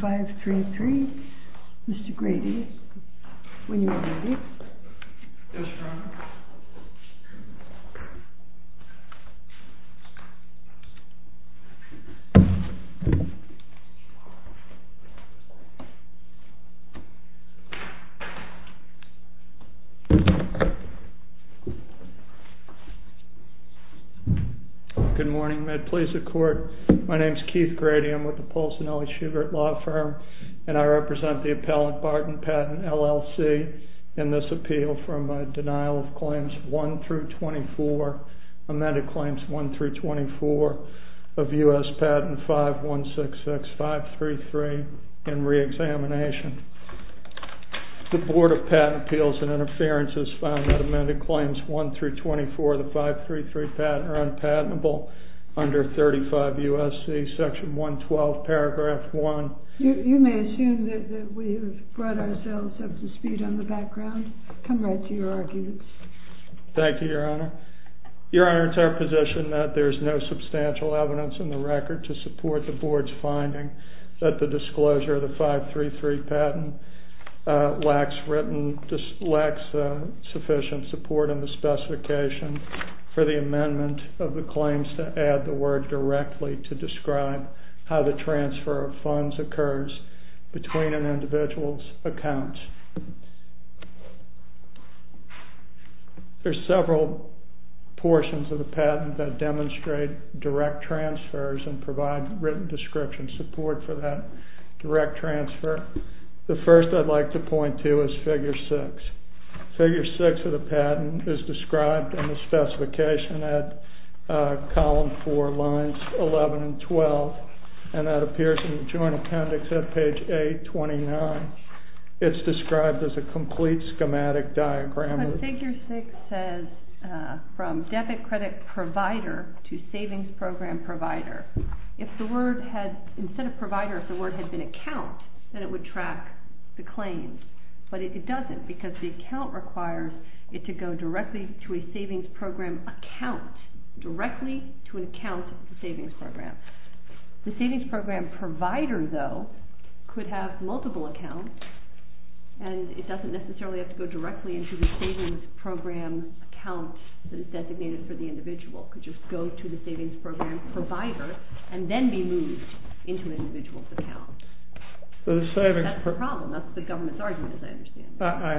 533. Mr. Grady, when you are ready. Yes, ma'am. Good morning. My name is Keith Grady. I represent the appellate Barton patent LLC and this appeal from denial of claims 1 through 24, amended claims 1 through 24 of U.S. patent 5166533 and reexamination. The Board of Patent Appeals and Interference has found that amended claims 1 through 24 of the 533 patent are unpatentable under 35 U.S.C. section 112 paragraph 1. You may assume that we have brought ourselves up to speed on the background. I'll come right to your arguments. Thank you, Your Honor. Your Honor, it's our position that there's no substantial evidence in the record to support the Board's finding that the disclosure of the 533 patent lacks sufficient support in the specification for the amendment of the claims to add the word directly to describe how the transfer of funds occurs between an individual's accounts. There's several portions of the patent that demonstrate direct transfers and provide written description support for that direct transfer. The first I'd like to point to is figure 6. Figure 6 of the patent is described in the specification at column 4, lines 11 and 12, and that appears in the Joint Appendix at page 829. It's described as a complete schematic diagram. Figure 6 says from debit credit provider to savings program provider. If the word had, instead of provider, if the word had been account, then it would track the claim. But it doesn't because the account requires it to go directly to a savings program account, directly to an account of the savings program. The savings program provider, though, could have multiple accounts, and it doesn't necessarily have to go directly into the savings program account that is designated for the individual. It could just go to the savings program provider and then be moved into the individual's account. That's the problem. That's the government's argument, I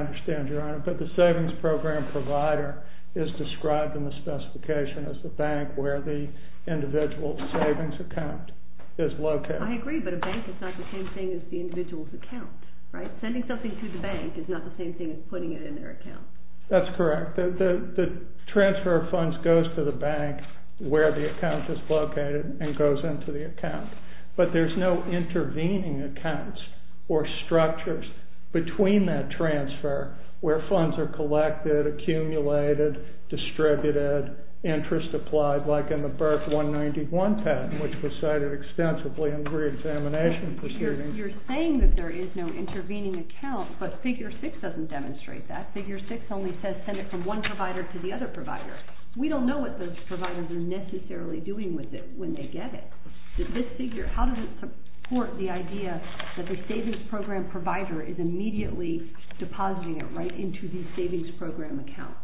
understand. But the savings program provider is described in the specification as the bank where the individual's savings account is located. I agree, but a bank is not the same thing as the individual's account, right? Sending something to the bank is not the same thing as putting it in their account. That's correct. The transfer of funds goes to the bank where the account is located and goes into the account. But there's no intervening accounts or structures between that transfer where funds are collected, accumulated, distributed, interest applied, like in the BRIC 191 path, which was cited extensively in the reexamination proceedings. You're saying that there is no intervening account, but Figure 6 doesn't demonstrate that. Figure 6 only says send it from one provider to the other provider. We don't know what those providers are necessarily doing with it when they get it. This figure, how does it support the idea that the savings program provider is immediately depositing it right into the savings program account?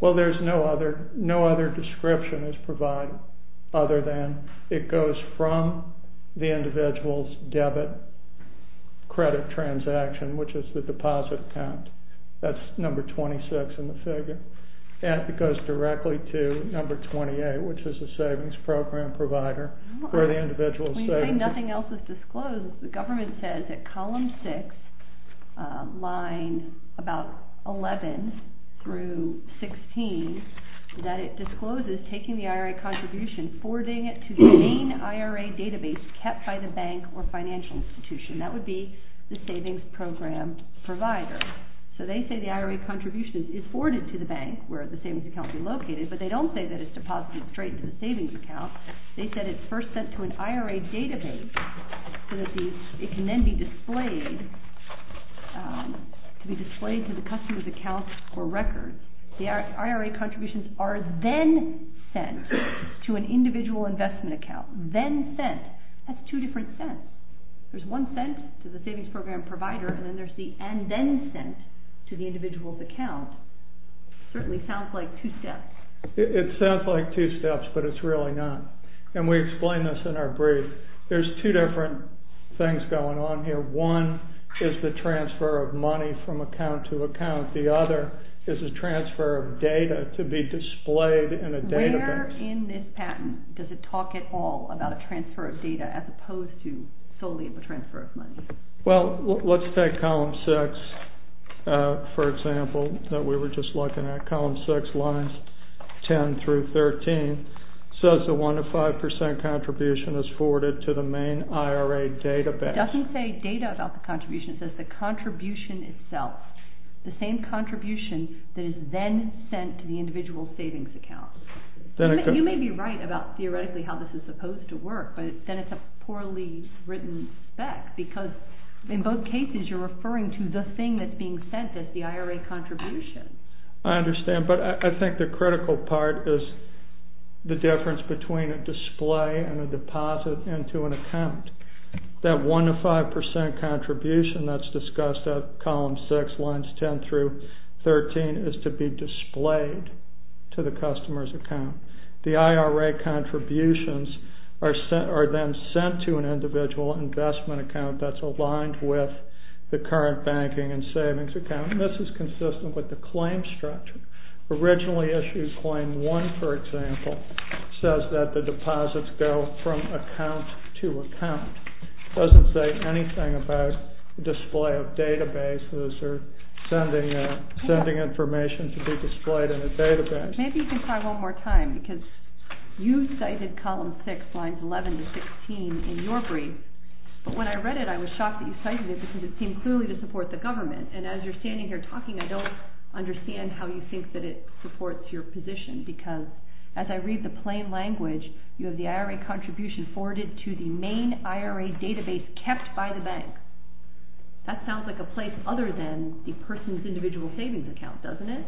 Well, there's no other description as provided other than it goes from the individual's debit credit transaction, which is the deposit count. That's number 26 in the figure, and it goes directly to number 28, which is the savings program provider for the individual's savings. When you say nothing else is disclosed, the government says that column 6, lines about 11 through 16, that it discloses taking the IRA contribution, forwarding it to the main IRA database kept by the bank or financial institution. That would be the savings program provider. So they say the IRA contribution is forwarded to the bank where the savings account is located, but they don't say that it's deposited straight into the savings account. They said it's first sent to an IRA database so that it can then be displayed to the customer's account for record. The IRA contributions are then sent to an individual investment account, then sent. That's two different sets. There's one sent to the savings program provider, and then there's the and then sent to the individual's account. It certainly sounds like two steps. It sounds like two steps, but it's really not. And we explain this in our brief. There's two different things going on here. One is the transfer of money from account to account. The other is the transfer of data to be displayed in a database. Where in this patent does it talk at all about a transfer of data as opposed to solely a transfer of money? Well, let's take column six, for example, that we were just looking at. Column six lines 10 through 13 says the 1 to 5% contribution is forwarded to the main IRA database. It doesn't say data about the contribution. It says the contribution itself, the same contribution that is then sent to the individual's savings account. You may be right about theoretically how this is supposed to work, but then it's a poorly written fact, because in both cases you're referring to the thing that's being sent, that's the IRA contribution. I understand, but I think the critical part is the difference between a display and a deposit into an account. That 1 to 5% contribution that's discussed at column six lines 10 through 13 is to be displayed to the customer's account. The IRA contributions are then sent to an individual investment account that's aligned with the current banking and savings account. And this is consistent with the claim structure. Originally issued claim one, for example, says that the deposit's billed from account to account. It doesn't say anything about the display of database, or sending information to be displayed in a database. Maybe you can try one more time, because you cited column six lines 11 to 16 in your brief, but when I read it I was shocked that you cited it because it seemed clearly to support the government. And as you're standing here talking, I don't understand how you think that it supports your position, because as I read the plain language, you have the IRA contribution forwarded to the main IRA database kept by the bank. That sounds like a place other than the person's individual savings account, doesn't it?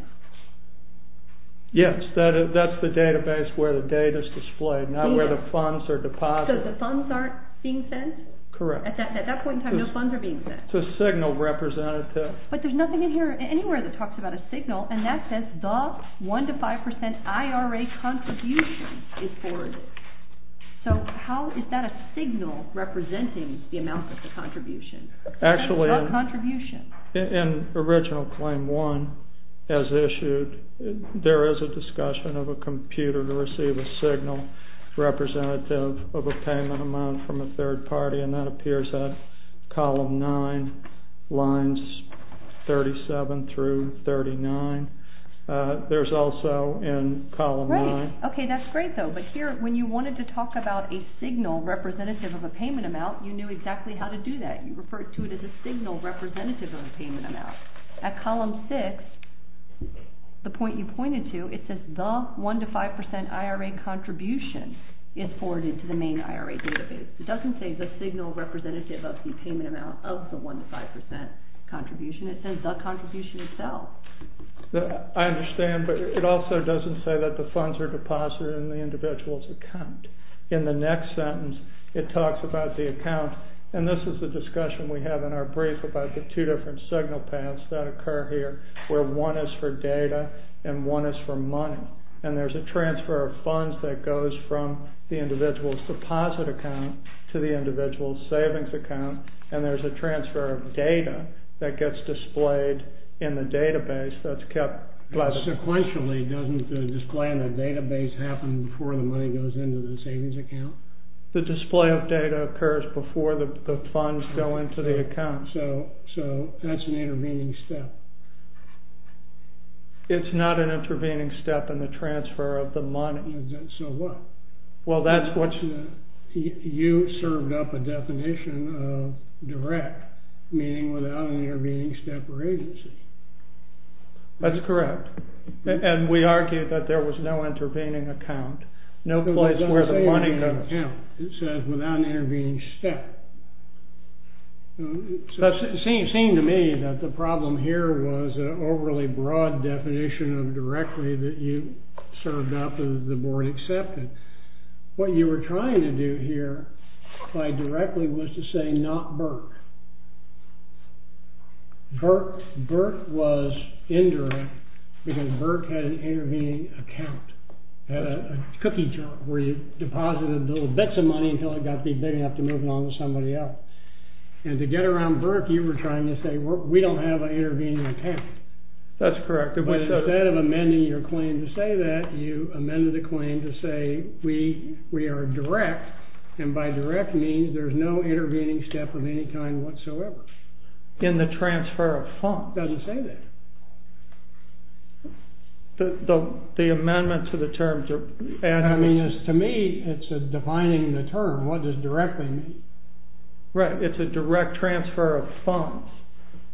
Yes, that's the database where the data's displayed, not where the funds are deposited. So the funds aren't being sent? Correct. At that point in time, no funds are being sent. It's a signal representative. But there's nothing in here anywhere that talks about a signal, and that says the one to five percent IRA contribution is forwarded. So how is that a signal representing the amount of the contribution? Actually, in original claim one, as issued, there is a discussion of a computer to receive a signal representative of a payment amount from a third party, and that appears in column nine, lines 37 through 39. There's also in column nine. Right. Okay, that's great, though. But here, when you wanted to talk about a signal representative of a payment amount, you knew exactly how to do that. You referred to it as a signal representative of a payment amount. At column six, the point you pointed to, it says the one to five percent IRA contribution is forwarded to the main IRA database. It doesn't say the signal representative of the payment amount of the one to five percent contribution. It says the contribution itself. I understand, but it also doesn't say that the funds are deposited in the individual's account. In the next sentence, it talks about the account, and this is the discussion we have in our brief about the two different signal paths that occur here, where one is for data and one is for money. And there's a transfer of funds that goes from the individual's deposit account to the individual's savings account, and there's a transfer of data that gets displayed in the database that's kept. But sequentially, doesn't the display in the database happen before the money goes into the savings account? The display of data occurs before the funds go into the account, so that's an intervening step. It's not an intervening step in the transfer of the money. So what? Well, that's what... You served up a definition of direct, meaning without an intervening step or agency. That's correct. And we argued that there was no intervening account, no place where the money goes. It says without an intervening step. It seemed to me that the problem here was an overly broad definition of directly that you served up and the board accepted. What you were trying to do here by directly was to say not Burke. Burke was indirect because Burke had an intervening account, had a cookie jar where you deposited little bits of money until it got big big enough to move on to somebody else. And to get around Burke, you were trying to say we don't have an intervening account. That's correct. But instead of amending your claim to say that, you amended the claim to say we are direct, and by direct means there's no intervening step of any kind whatsoever. In the transfer of funds, it doesn't say that. The amendment to the term, to me, it's defining the term. What does directly mean? Right. It's a direct transfer of funds.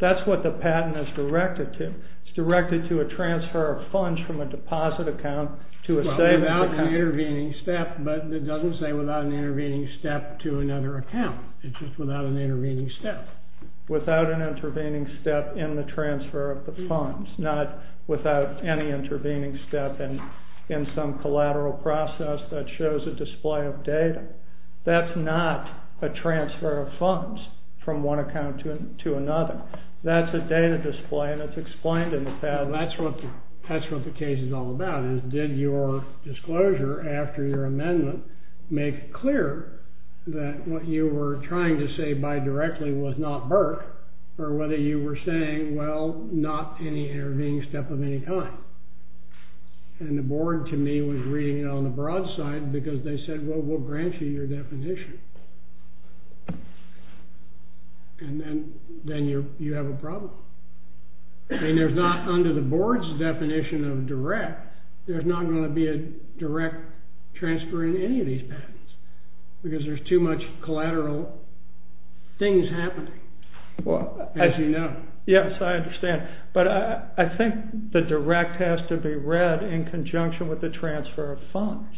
That's what the patent is directed to. It's directed to a transfer of funds from a deposit account to a save-out account. It doesn't say without an intervening step, but it doesn't say without an intervening step to another account. It's just without an intervening step. Without an intervening step in the transfer of the funds, not without any intervening step in some collateral process that shows a display of data. That's not a transfer of funds from one account to another. That's a data display, and it's explained in the patent. That's what the case is all about, is did your disclosure after your amendment make it clear that what you were trying to say by directly was not birth, or whether you were saying, well, not any intervening step of any kind. And the board, to me, was reading it on the broad side because they said, well, we'll grant you your definition. And then you have a problem. And there's not, under the board's definition of direct, there's not going to be a direct transfer in any of these patents because there's too much collateral things happening. As you know. Yes, I understand. But I think the direct has to be read in conjunction with the transfer of funds.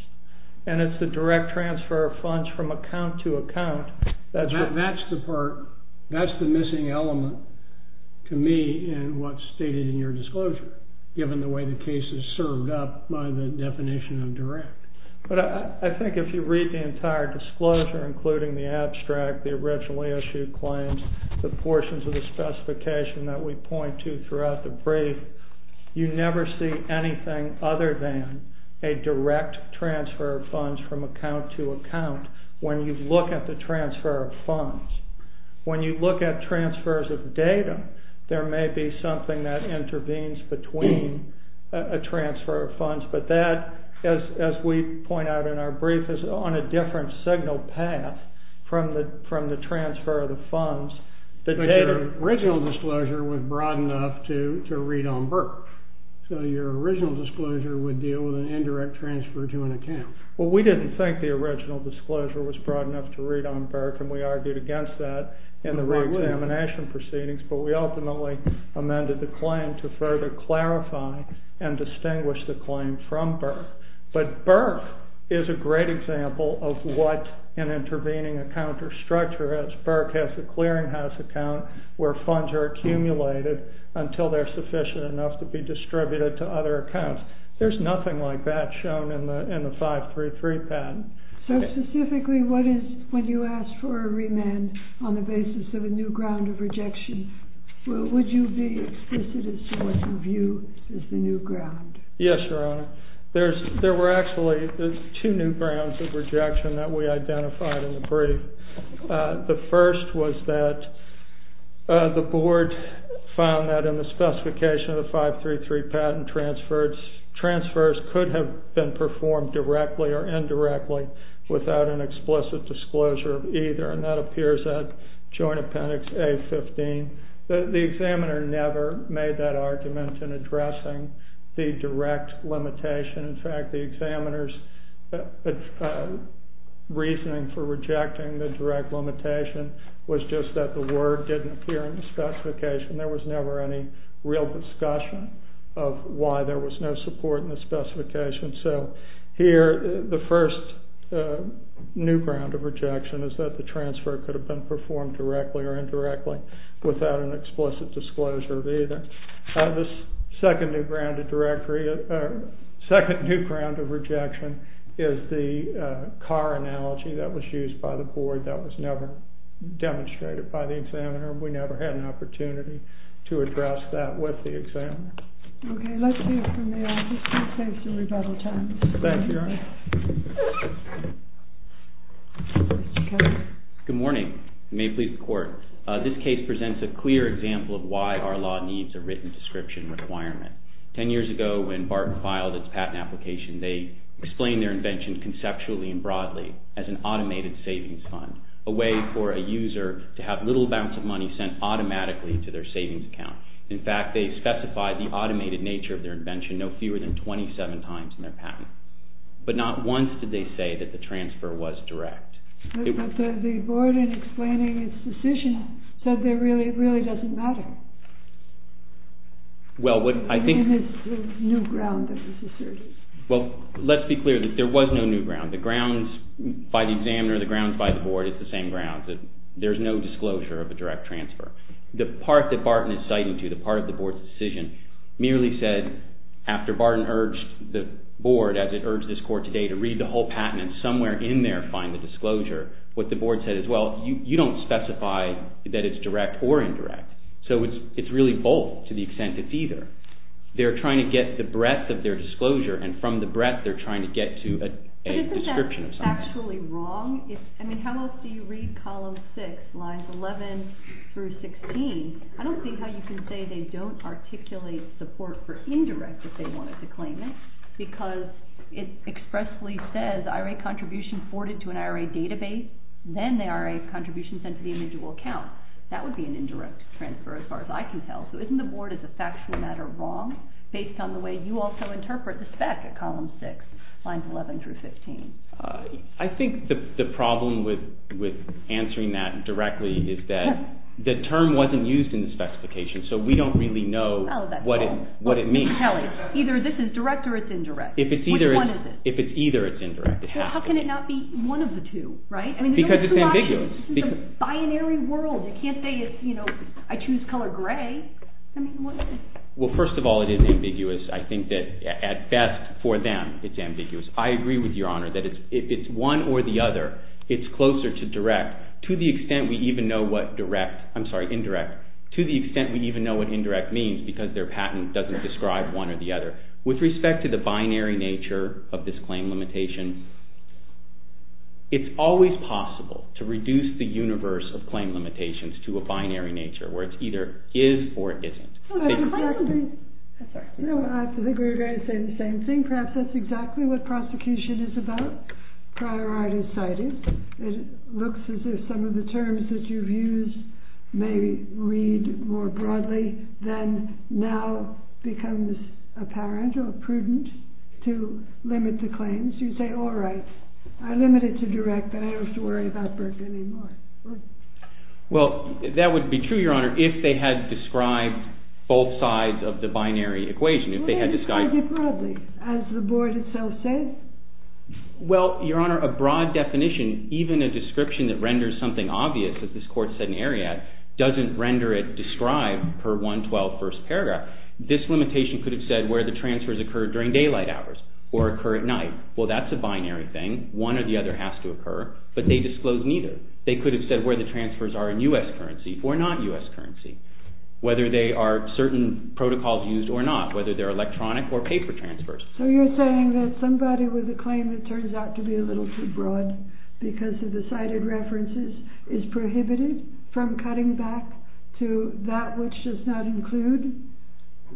And it's the direct transfer of funds from account to account. That's the part. That's the missing element to me in what's stated in your disclosure, given the way the case is served up by the definition of direct. But I think if you read the entire disclosure, including the abstract, the originally issued claims, the portions of the specification that we point to throughout the brief, you never see anything other than a direct transfer of funds from account to account when you look at the transfer of funds. When you look at transfers of data, there may be something that intervenes between a transfer of funds. But that, as we point out in our brief, is on a different signal path from the transfer of the funds. But your original disclosure was broad enough to read on Burke. So your original disclosure would deal with an indirect transfer to an account. Well, we didn't think the original disclosure was broad enough to read on Burke, and we argued against that in the re-examination proceedings. But we ultimately amended the claim to further clarify and distinguish the claim from Burke. But Burke is a great example of what an intervening account or structure is. Burke has a clearinghouse account where funds are accumulated until they're sufficient enough to be distributed to other accounts. There's nothing like that shown in the 533 patent. So specifically, what is it when you ask for a remand on the basis of a new ground of rejection? Would you be explicit as to what you view as the new ground? Yes, Your Honor. There were actually two new grounds of rejection that we identified in the brief. The first was that the board found that in the specification of the 533 patent, transfers could have been performed directly or indirectly without an explicit disclosure of either, and that appears at Joint Appendix A-15. The examiner never made that argument in addressing the direct limitation. In fact, the examiner's reasoning for rejecting the direct limitation was just that the word didn't appear in the specification. There was never any real discussion of why there was no support in the specification. So here, the first new ground of rejection is that the transfer could have been performed directly or indirectly without an explicit disclosure of either. The second new ground of rejection is the car analogy that was used by the board that was never demonstrated by the examiner. We never had an opportunity to address that with the examiner. Okay, let's hear from you. I just want to thank you for your time. Thank you, Your Honor. Good morning. May it please the Court. This case presents a clear example of why our law needs a written description requirement. Ten years ago, when BART filed its patent application, they explained their invention conceptually and broadly as an automated savings fund, a way for a user to have little amounts of money sent automatically to their savings account. In fact, they specified the automated nature of their invention no fewer than 27 times in their patent. But not once did they say that the transfer was direct. But the board, in explaining its decision, said it really doesn't matter. Well, I think... And it's the new ground that was asserted. Well, let's be clear. There was no new ground. The grounds by the examiner, the grounds by the board, it's the same grounds. There's no disclosure of a direct transfer. The part that BART was citing to, the part of the board's decision, merely said, after BART urged the board, as it urged this Court today, to read the whole patent and somewhere in there find the disclosure, what the board said is, well, you don't specify that it's direct or indirect. So it's really both to the extent it's either. They're trying to get the breadth of their disclosure, and from the breadth they're trying to get to a description of something. Isn't that factually wrong? I mean, how else do you read column 6, lines 11 through 16? I don't see how you can say they don't articulate support for indirect if they wanted to claim it because it expressly says IRA contribution forwarded to an IRA database, then the IRA contribution sent to the individual account. That would be an indirect transfer as far as I can tell. So isn't the board, as a factual matter, wrong? Based on the way you also interpret the spec at column 6, lines 11 through 16. I think the problem with answering that directly is that the term wasn't used in the specification, so we don't really know what it means. Either this is direct or it's indirect. If it's either, it's indirect. How can it not be one of the two, right? Because it's ambiguous. It's a binary world. It can't say, you know, I choose color gray. Well, first of all, it is ambiguous. I think that, at best for them, it's ambiguous. I agree with Your Honor that it's one or the other. It's closer to direct to the extent we even know what direct, I'm sorry, indirect, to the extent we even know what indirect means because their patent doesn't describe one or the other. With respect to the binary nature of this claim limitation, it's always possible to reduce the universe of claim limitations to a binary nature where it's either is or isn't. I agree. I'm sorry. No, I disagree. I would say the same thing. Perhaps that's exactly what prosecution is about. Priority is cited. It looks as if some of the terms that you've used may read more broadly than now becomes apparent or prudent to limit the claims. You say, all right, I limit it to direct, but I don't have to worry about Berkeley anymore. Well, that would be true, Your Honor, if they had described both sides of the binary equation. If they had described it broadly, as the board itself says. Well, Your Honor, a broad definition, even a description that renders something obvious, as this court said in Ariadne, doesn't render it described per 112 First Paragraph. This limitation could have said where the transfers occurred during daylight hours or occur at night. Well, that's a binary thing. One or the other has to occur, but they disclose neither. They could have said where the transfers are in U.S. currency or not U.S. currency, whether they are certain protocols used or not, whether they're electronic or paper transfers. So you're saying that somebody with a claim that turns out to be a little too broad because of the cited references is prohibited from cutting back to that which does not include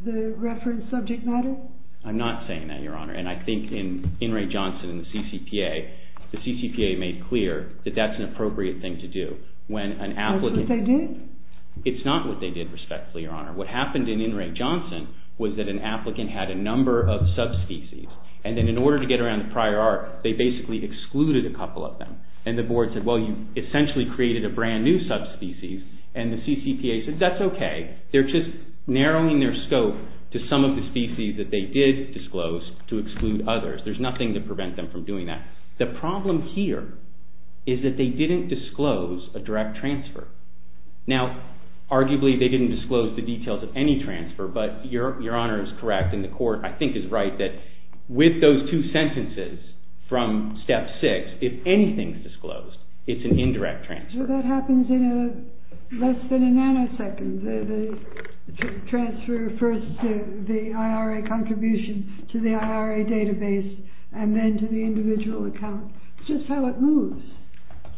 the reference subject matter? I'm not saying that, Your Honor, and I think in In re. Johnson's CCPA, the CCPA made clear that that's an appropriate thing to do. That's what they did? It's not what they did, respectfully, Your Honor. What happened in In re. Johnson was that an applicant had a number of subspecies, and then in order to get around the prior art, they basically excluded a couple of them, and the board said, well, you essentially created a brand new subspecies, and the CCPA said, that's okay. They're just narrowing their scope to some of the species that they did disclose to exclude others. There's nothing to prevent them from doing that. The problem here is that they didn't disclose a direct transfer. Now, arguably, they didn't disclose the details of any transfer, but Your Honor is correct, and the court, I think, is right, that with those two sentences from Step 6, if anything's disclosed, it's an indirect transfer. Well, that happens in less than a nanosecond. The transfer refers to the IRA contribution to the IRA database and then to the individual account. It's just how it moves.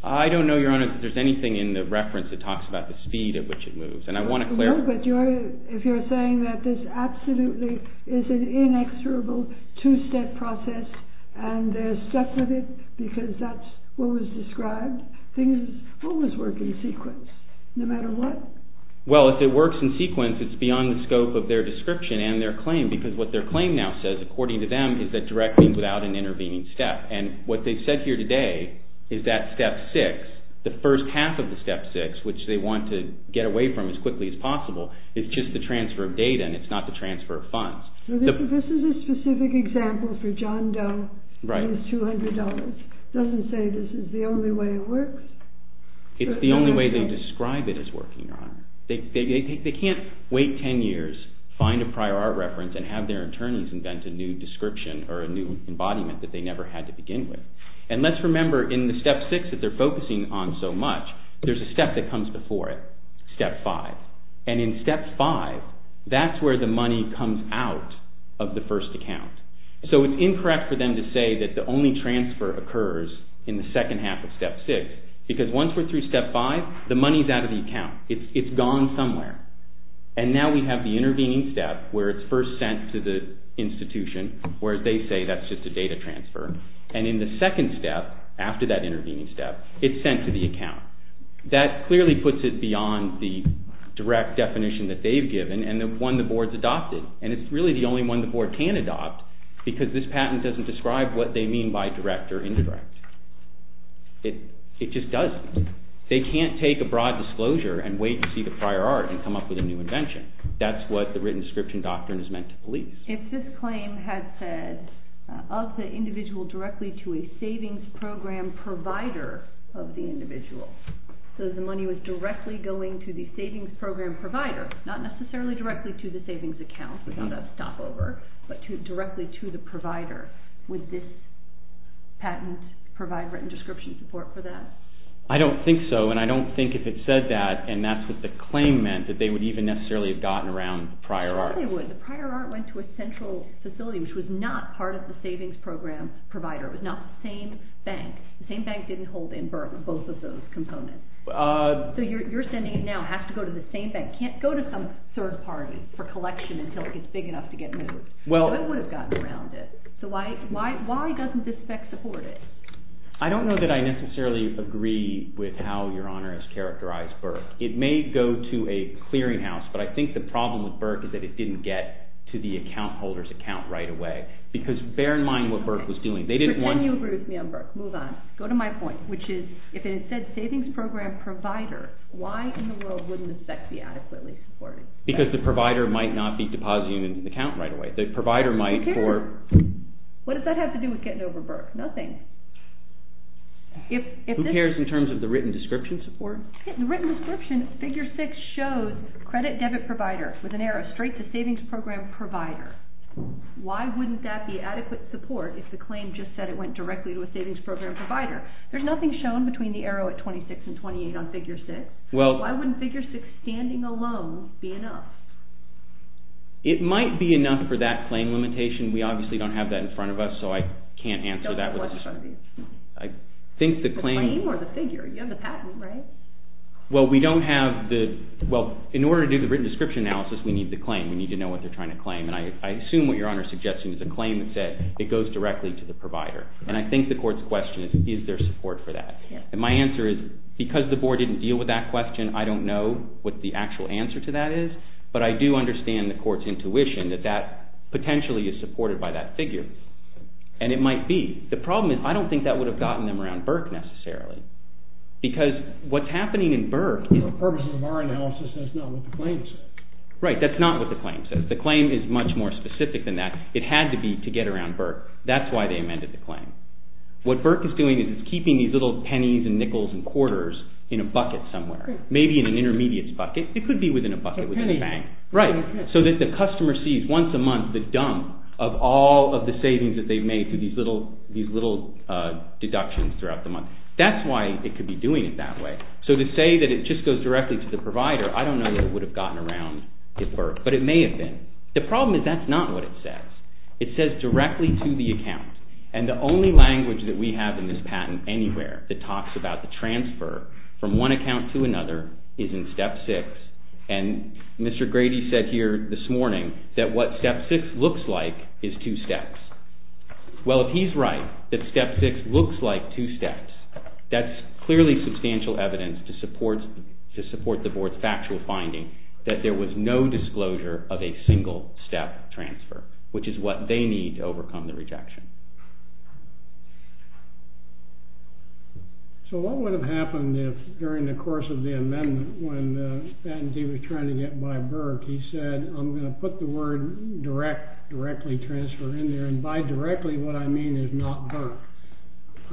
I don't know, Your Honor, if there's anything in the reference that talks about the speed at which it moves, and I want to clarify. No, but if you're saying that this absolutely is an inexorable two-step process and there's steps with it because that's what was described, things always work in sequence, no matter what. Well, if it works in sequence, it's beyond the scope of their description and their claim, because what their claim now says, according to them, is that directly without an intervening step, and what they've said here today is that Step 6, the first half of the Step 6, which they want to get away from as quickly as possible, is just the transfer of data and it's not the transfer of funds. This is a specific example for John Doe and his $200. It doesn't say this is the only way it works. It's the only way they describe it as working, Your Honor. They can't wait 10 years, find a prior art reference, and have their attorneys invent a new description or a new embodiment that they never had to begin with. And let's remember, in the Step 6 that they're focusing on so much, there's a step that comes before it, Step 5. And in Step 5, that's where the money comes out of the first account. So it's incorrect for them to say that the only transfer occurs in the second half of Step 6 because once we're through Step 5, the money's out of the account. It's gone somewhere. And now we have the intervening step where it's first sent to the institution where they say that's just a data transfer. And in the second step, after that intervening step, it's sent to the account. That clearly puts it beyond the direct definition that they've given and the one the board's adopted. And it's really the only one the board can adopt because this patent doesn't describe what they mean by direct or incorrect. It just doesn't. They can't take a broad disclosure and wait to see the prior art and come up with a new invention. That's what the written description doctrine is meant to believe. If this claim had said of the individual directly to a savings program provider of the individual, so the money was directly going to the savings program provider, not necessarily directly to the savings account, because that's a stopover, but directly to the provider, would this patent provide written description support for them? I don't think so, and I don't think if it said that, and that's what the claim meant, that they would even necessarily have gotten around prior art. No, they wouldn't. The prior art went to a central facility, which was not part of the savings program provider. It was not the same bank. The same bank didn't hold in Burt both of those components. So you're sending it now. It has to go to the same bank. It can't go to some third party for collection until it gets big enough to get moved. So it would have gotten around it. So why doesn't this spec support it? I don't know that I necessarily agree with how Your Honor has characterized Burt. It may go to a clearing house, but I think the problem with Burt is that it didn't get to the account holder's account right away, because bear in mind what Burt was doing. They didn't want to... So can you agree with me on Burt? Move on. Go to my point, which is if it said savings program provider, why in the world wouldn't the spec be adequately supported? Because the provider might not be depositing an account right away. The provider might for... Who cares? What does that have to do with getting over Burt? Nothing. Who cares in terms of the written description support? In the written description, figure six shows credit debit provider with an arrow straight to savings program provider. Why wouldn't that be adequate support if the claim just said it went directly to a savings program provider? There's nothing shown between the arrow at 26 and 28 on figure six. Why wouldn't figure six standing alone be enough? It might be enough for that claim limitation. We obviously don't have that in front of us, so I can't answer that question. I think the claim... Well, we don't have the... Well, in order to do the written description analysis, we need the claim. We need to know what they're trying to claim. And I assume what your Honor is suggesting is a claim that said it goes directly to the provider. And I think the court's question is, is there support for that? And my answer is, because the board didn't deal with that question, I don't know what the actual answer to that is. But I do understand the court's intuition that that potentially is supported by that figure. And it might be. The problem is, I don't think that would have gotten them around Burt necessarily. Because what's happening in Burt... Right, that's not what the claim says. The claim is much more specific than that. It had to be to get around Burt. That's why they amended the claim. What Burt is doing is keeping these little pennies and nickels and quarters in a bucket somewhere. Maybe in an intermediate bucket. It could be within a bucket. Right, so that the customer sees once a month the dump of all of the savings that they've made to these little deductions throughout the month. That's why it could be doing it that way. So to say that it just goes directly to the provider, I don't know that it would have gotten around Burt. But it may have been. The problem is that's not what it says. It says directly to the account. And the only language that we have in this patent anywhere that talks about the transfer from one account to another is in step six. And Mr. Grady said here this morning that what step six looks like is two steps. Well, if he's right, that step six looks like two steps, that's clearly substantial evidence to support the board's factual finding that there was no disclosure of a single-step transfer, which is what they need to overcome the rejection. So what would have happened if during the course of the amendment when the patentee was trying to get by Burt, he said, I'm going to put the word directly transferred in there. And by directly, what I mean is not Burt.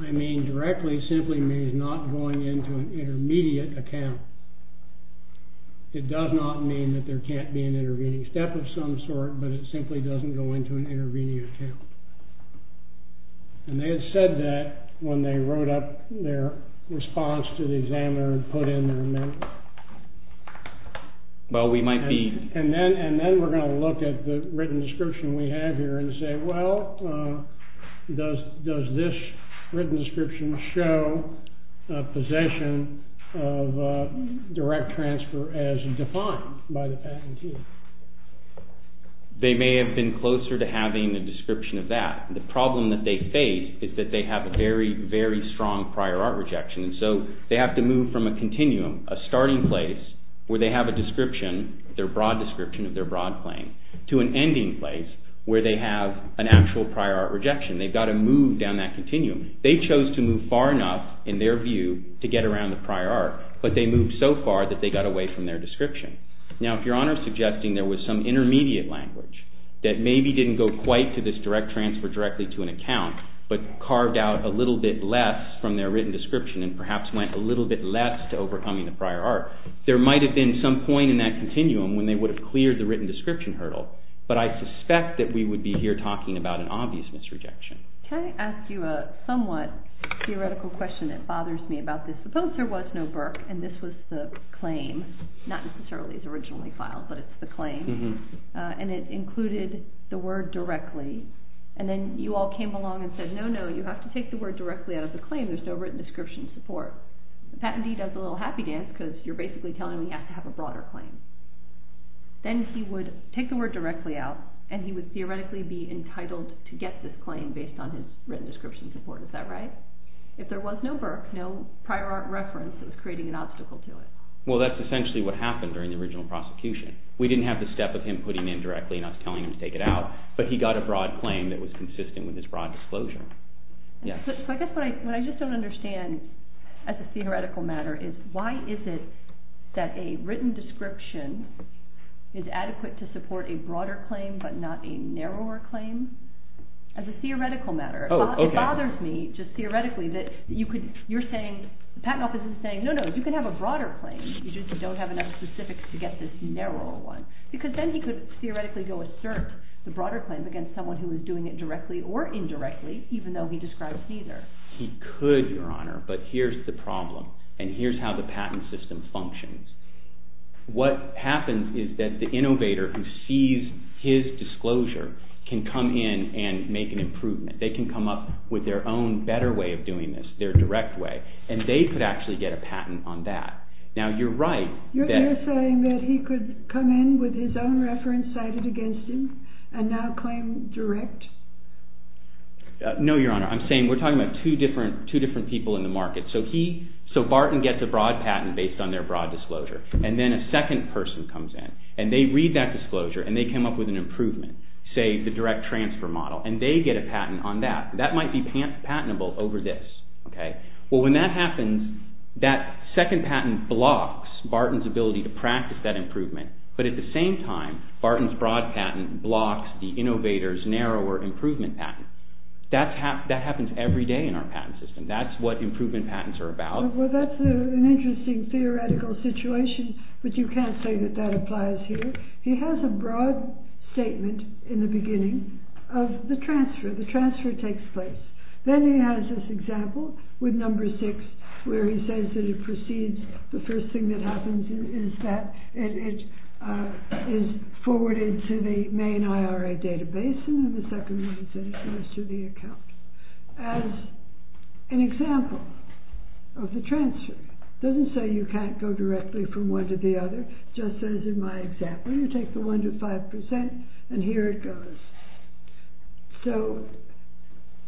I mean directly simply means not going into an intermediate account. It does not mean that there can't be an intermediate step of some sort, but it simply doesn't go into an intermediate account. And they had said that when they wrote up their response to the examiner and put in their amendment. Well, we might be... And then we're going to look at the written description we have here and say, well, does this written description show a possession of direct transfer as defined by the patentee? They may have been closer to having a description of that. The problem that they face is that they have a very, very strong prior art rejection. So they have to move from a continuum, a starting place where they have a description, their broad description of their broad claim, to an ending place where they have an actual prior art rejection. They've got to move down that continuum. They chose to move far enough, in their view, to get around the prior art, but they moved so far that they got away from their description. Now, if Your Honor is suggesting there was some intermediate language that maybe didn't go quite to this direct transfer directly to an account, but carved out a little bit less from their written description and perhaps went a little bit less to overcoming the prior art, there might have been some point in that continuum when they would have cleared the written description hurdle. But I suspect that we would be here talking about an obvious misrejection. Can I ask you a somewhat theoretical question that bothers me about this? Suppose there was no Burke, and this was the claim, not necessarily the original refile, but it's the claim, and it included the word directly, and then you all came along and said, no, no, you have to take the word directly out of the claim. There's no written description support. Patentee does a little happy dance because you're basically telling him he has to have a broader claim. Then he would take the word directly out, and he would theoretically be entitled to get this claim based on his written description support. Is that right? If there was no Burke, no prior art reference was creating an obstacle to it. Well, that's essentially what happened during the original prosecution. We didn't have the step of him putting it in directly and us telling him to take it out, but he got a broad claim that was consistent with his broad disclosure. What I just don't understand as a theoretical matter is why is it that a written description is adequate to support a broader claim but not a narrower claim? As a theoretical matter, it bothers me just theoretically that you're saying, Pattenhoff isn't saying, no, no, you can have a broader claim, you just don't have enough specifics to get this narrower one. Because then he could theoretically go assert the broader claims against someone who was doing it directly or indirectly, even though he describes neither. He could, Your Honor, but here's the problem, and here's how the Patten system functions. What happens is that the innovator who sees his disclosure can come in and make an improvement. They can come up with their own better way of doing this, their direct way, and they could actually get a patent on that. Now, you're right. You're saying that he could come in with his own reference that he cited against him, and now claim direct? No, Your Honor. I'm saying we're talking about two different people in the market. So Barton gets a broad patent based on their broad disclosure, and then a second person comes in, and they read that disclosure, and they came up with an improvement, say, the direct transfer model, and they get a patent on that. That might be patentable over this. Well, when that happens, that second patent blocks Barton's ability to practice that improvement, but at the same time, Barton's broad patent blocks the innovator's narrower improvement patent. That happens every day in our Patten system. That's what improvement patents are about. Well, that's an interesting theoretical situation, but you can't say that that applies here. He has a broad statement in the beginning of the transfer. The transfer takes place. Then he has this example with number six, where he says that he proceeds. The first thing that happens is that it is forwarded to the main IRA database, and then the second thing is that it goes to the account. As an example of the transfer, it doesn't say you can't go directly from one to the other, just as in my example. You take the one to five percent, and here it goes. So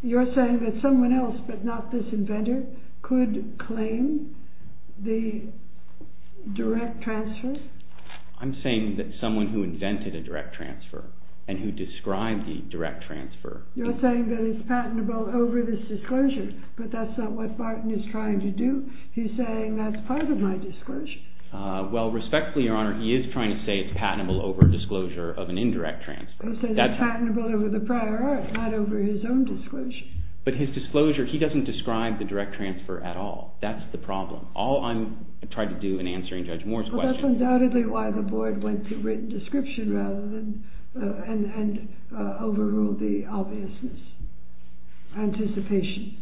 you're saying that someone else, but not this inventor, could claim the direct transfer? I'm saying that someone who invented a direct transfer and who described the direct transfer. You're saying that it's patentable over this disclosure, but that's not what Barton is trying to do. He's saying that's part of my disclosure. Well, respectfully, Your Honor, he is trying to say it's patentable over disclosure of an indirect transfer. not over his own disclosure. But his disclosure, he doesn't describe the direct transfer at all. That's the problem. All I'm trying to do in answering Judge Moore's question... Well, that's undoubtedly why the board went to written description rather than overruled the obviousness. Anticipation.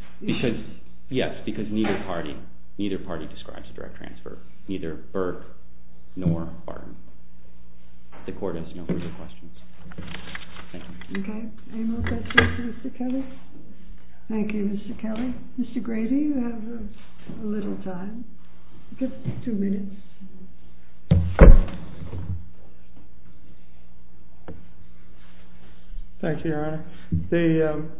Yes, because neither party describes the direct transfer. Neither Burke nor Barton. The court has no further questions. Okay. Any more questions for Mr. Kelly? Thank you, Mr. Kelly. Mr. Grady, you have a little time. Just two minutes. Thank you, Your Honor.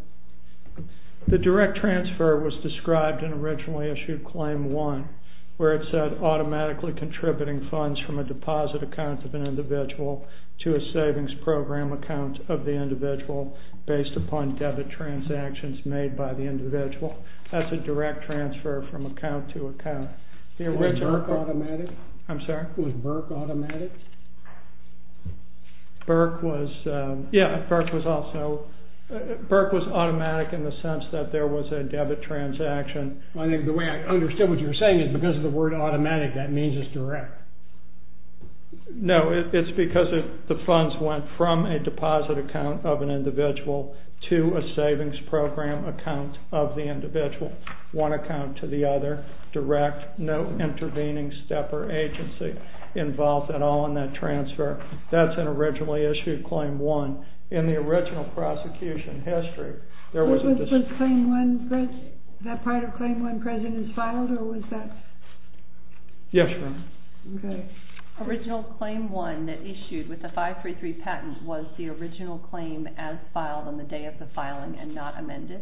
The direct transfer was described in original issue claim one, where it said automatically contributing funds from a deposit account of an individual to a savings program account of the individual based upon debit transactions made by the individual. That's a direct transfer from account to account. Was Burke automatic? I'm sorry? Was Burke automatic? Burke was... Yeah, Burke was also... Burke was automatic in the sense that there was a debit transaction. I think the way I understood what you were saying is because of the word automatic, that means it's direct. No, it's because the funds went from a deposit account of an individual to a savings program account of the individual. One account to the other, direct. No intervening step or agency involved at all in that transfer. That's in original issue claim one. In the original prosecution history, there was... Was that part of claim one president filed or was that... Yes, ma'am. Okay. Original claim one that issued with the 533 patent was the original claim as filed on the day of the filing and not amended?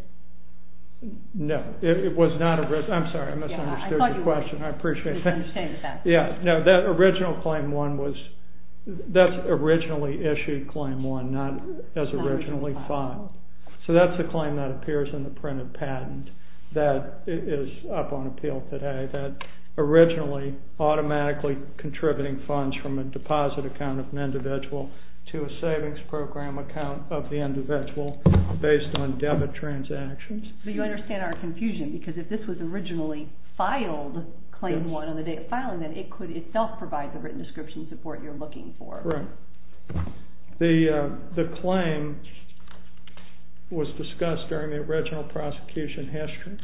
No, it was not... I'm sorry, I misunderstood your question. I appreciate that. Please understand that. Yeah, no, that original claim one was... That's originally issued claim one, not as originally filed. So that's a claim that appears in the printed patent that is up on appeal today, that originally automatically contributing funds from a deposit account of an individual to a savings program account of the individual based on debit transactions. You understand our confusion because if this was originally filed claim one on the day of filing, then it could itself provide the written description support you're looking for. Right. The claim was discussed during the original prosecution history.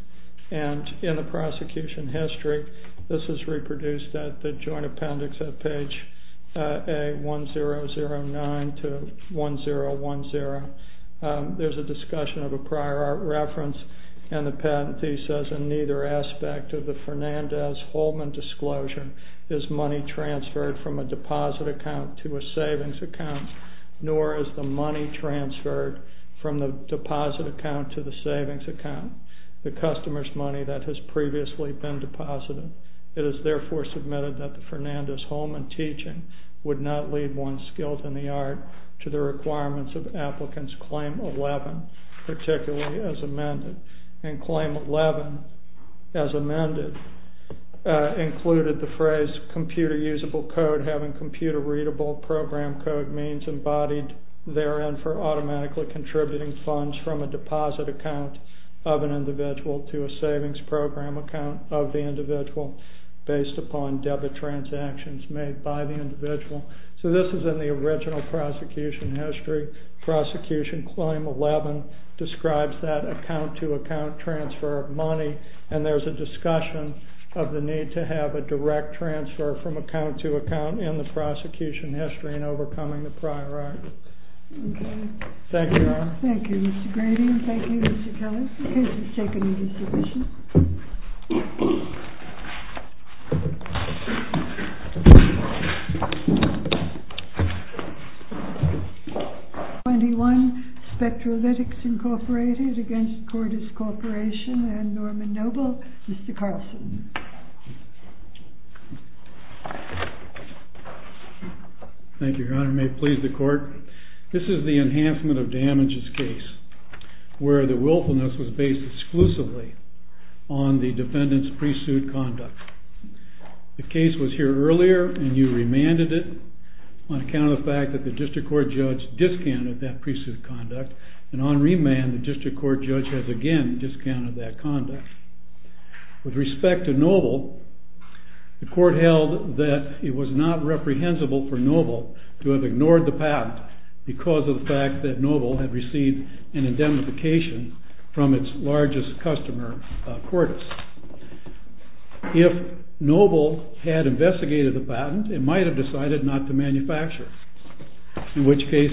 And in the prosecution history, this is reproduced at the joint appendix at page A1009 to 1010. There's a discussion of a prior art reference and the patent fee says, in neither aspect of the Fernandez-Holman disclosure is money transferred from a deposit account to a savings account, nor is the money transferred from the deposit account to the savings account, the customer's money that has previously been deposited. It is therefore submitted that the Fernandez-Holman teaching would not leave one's skills in the art to the requirements of applicant's claim 11, particularly as amended. And claim 11, as amended, included the phrase computer usable code and having computer readable program code means embodied therein for automatically contributing funds from a deposit account of an individual to a savings program account of the individual based upon debit transactions made by the individual. So this is in the original prosecution history. Prosecution claim 11 describes that account-to-account transfer of money and there's a discussion of the need to have a direct transfer from account-to-account in the prosecution history in overcoming the prior art. Thank you. Thank you, Mr. Grady. Thank you, Mr. Kellett. The case is taken in this division. 21, Spectralytics Incorporated against Cordis Corporation and Norman Noble. Mr. Carlson. Thank you, Your Honor. May it please the court. This is the Enhancement of Damages case where the willfulness was based exclusively on the defendant's pre-suit conduct. The case was here earlier and you remanded it on account of the fact that the district court judge discounted that pre-suit conduct and on remand the district court judge again discounted that conduct. With respect to Noble, the court held that it was not reprehensible for Noble to have ignored the patent because of the fact that Noble had received an indemnification from its largest customer, Cordis. If Noble had investigated the patent, it might have decided not to manufacture it, in which case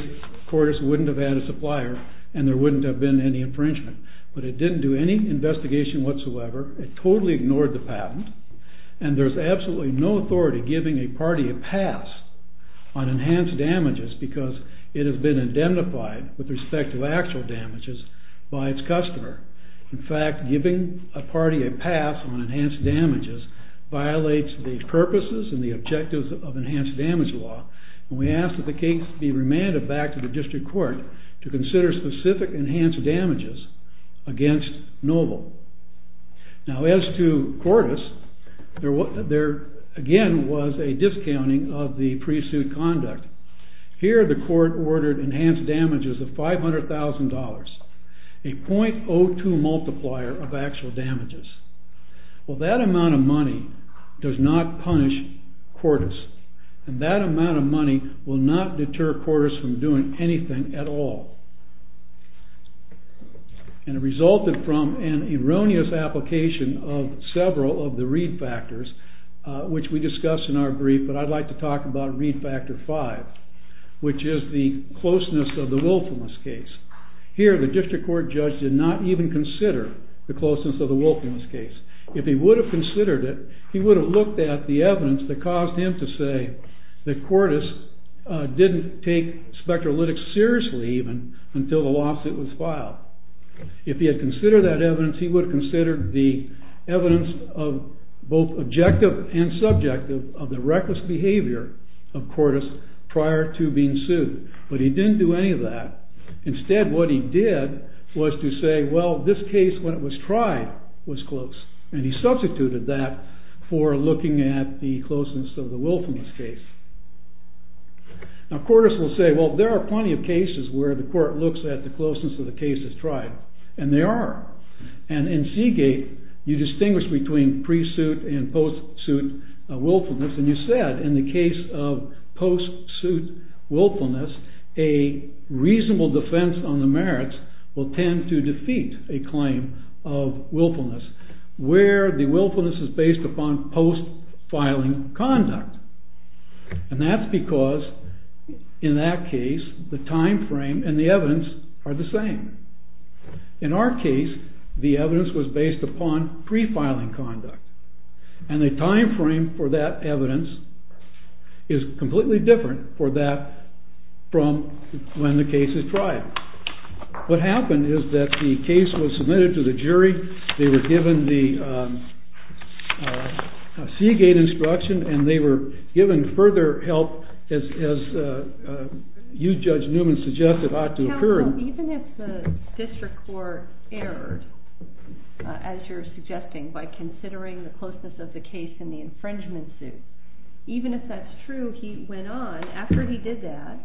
Cordis wouldn't have had a supplier and there wouldn't have been any infringement. But it didn't do any investigation whatsoever. It totally ignored the patent. And there's absolutely no authority giving a party a pass on enhanced damages because it has been identified with respect to actual damages by its customer. In fact, giving a party a pass on enhanced damages violates the purposes and the objectives of enhanced damage law. And we ask that the case be remanded back to the district court to consider specific enhanced damages against Noble. Now as to Cordis, there again was a discounting of the pre-suit conduct. Here the court ordered enhanced damages of $500,000, a 0.02 multiplier of actual damages. Well, that amount of money does not punish Cordis. And that amount of money will not deter Cordis from doing anything at all. And it resulted from an erroneous application of several of the read factors, which we discussed in our brief. But I'd like to talk about read factor five, which is the closeness of the Willfulness case. Here the district court judge did not even consider the closeness of the Willfulness case. If he would have considered it, he would have looked at the evidence that spectrolytics seriously even until the lawsuit was filed. If he had considered that evidence, he would have considered the evidence of both objective and subjective of the reckless behavior of Cordis prior to being sued. But he didn't do any of that. Instead what he did was to say, well, this case when it was tried was close. And he substituted that for looking at the closeness of the Willfulness case. Now Cordis will say, well, there are plenty of cases where the court looks at the closeness of the case that's tried. And they are. And in Seagate, you distinguish between pre-suit and post-suit Willfulness. And you said in the case of post-suit Willfulness, a reasonable defense on the merits will tend to defeat a claim of Willfulness, where the Willfulness is based upon post-filing conduct. And that's because in that case, the time frame and the evidence are the same. In our case, the evidence was based upon pre-filing conduct. And the time frame for that evidence is completely different for that from when the case is tried. What happened is that the case was submitted to the jury. They were given the Seagate instruction. And they were given further help, as you, Judge Newman, suggested ought to occur. Even if the district court erred, as you're suggesting, by considering the closeness of the case in the infringement suit, even if that's true, he went on. After he did that,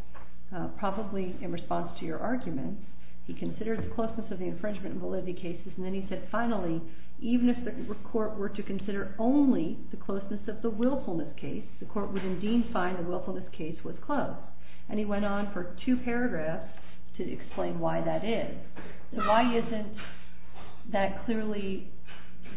probably in response to your argument, he considered the closeness of the infringement validity cases. And then he said, finally, even if the court were to consider only the closeness of the Willfulness case, the court would indeed find the Willfulness case was close. And he went on for two paragraphs to explain why that is. Why isn't that clearly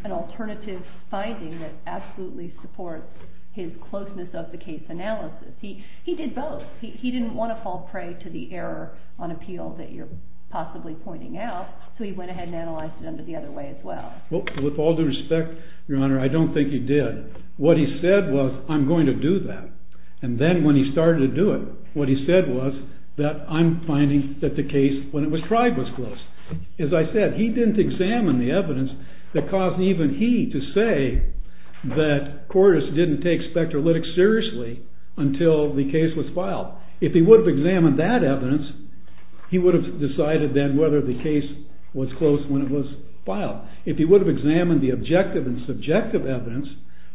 an alternative finding that absolutely supports his closeness of the case analysis? He did both. He didn't want to fall prey to the error on appeal that you're possibly pointing out. So he went ahead and analyzed them the other way as well. With all due respect, Your Honor, I don't think he did. What he said was, I'm going to do that. And then when he started to do it, what he said was, that I'm finding that the case, when it was tried, was close. As I said, he didn't examine the evidence that caused even he to say that Cordes didn't take spectrolytics seriously until the case was filed. If he would have examined that evidence, he would have decided then whether the case was close when it was filed. If he would have examined the objective and subjective evidence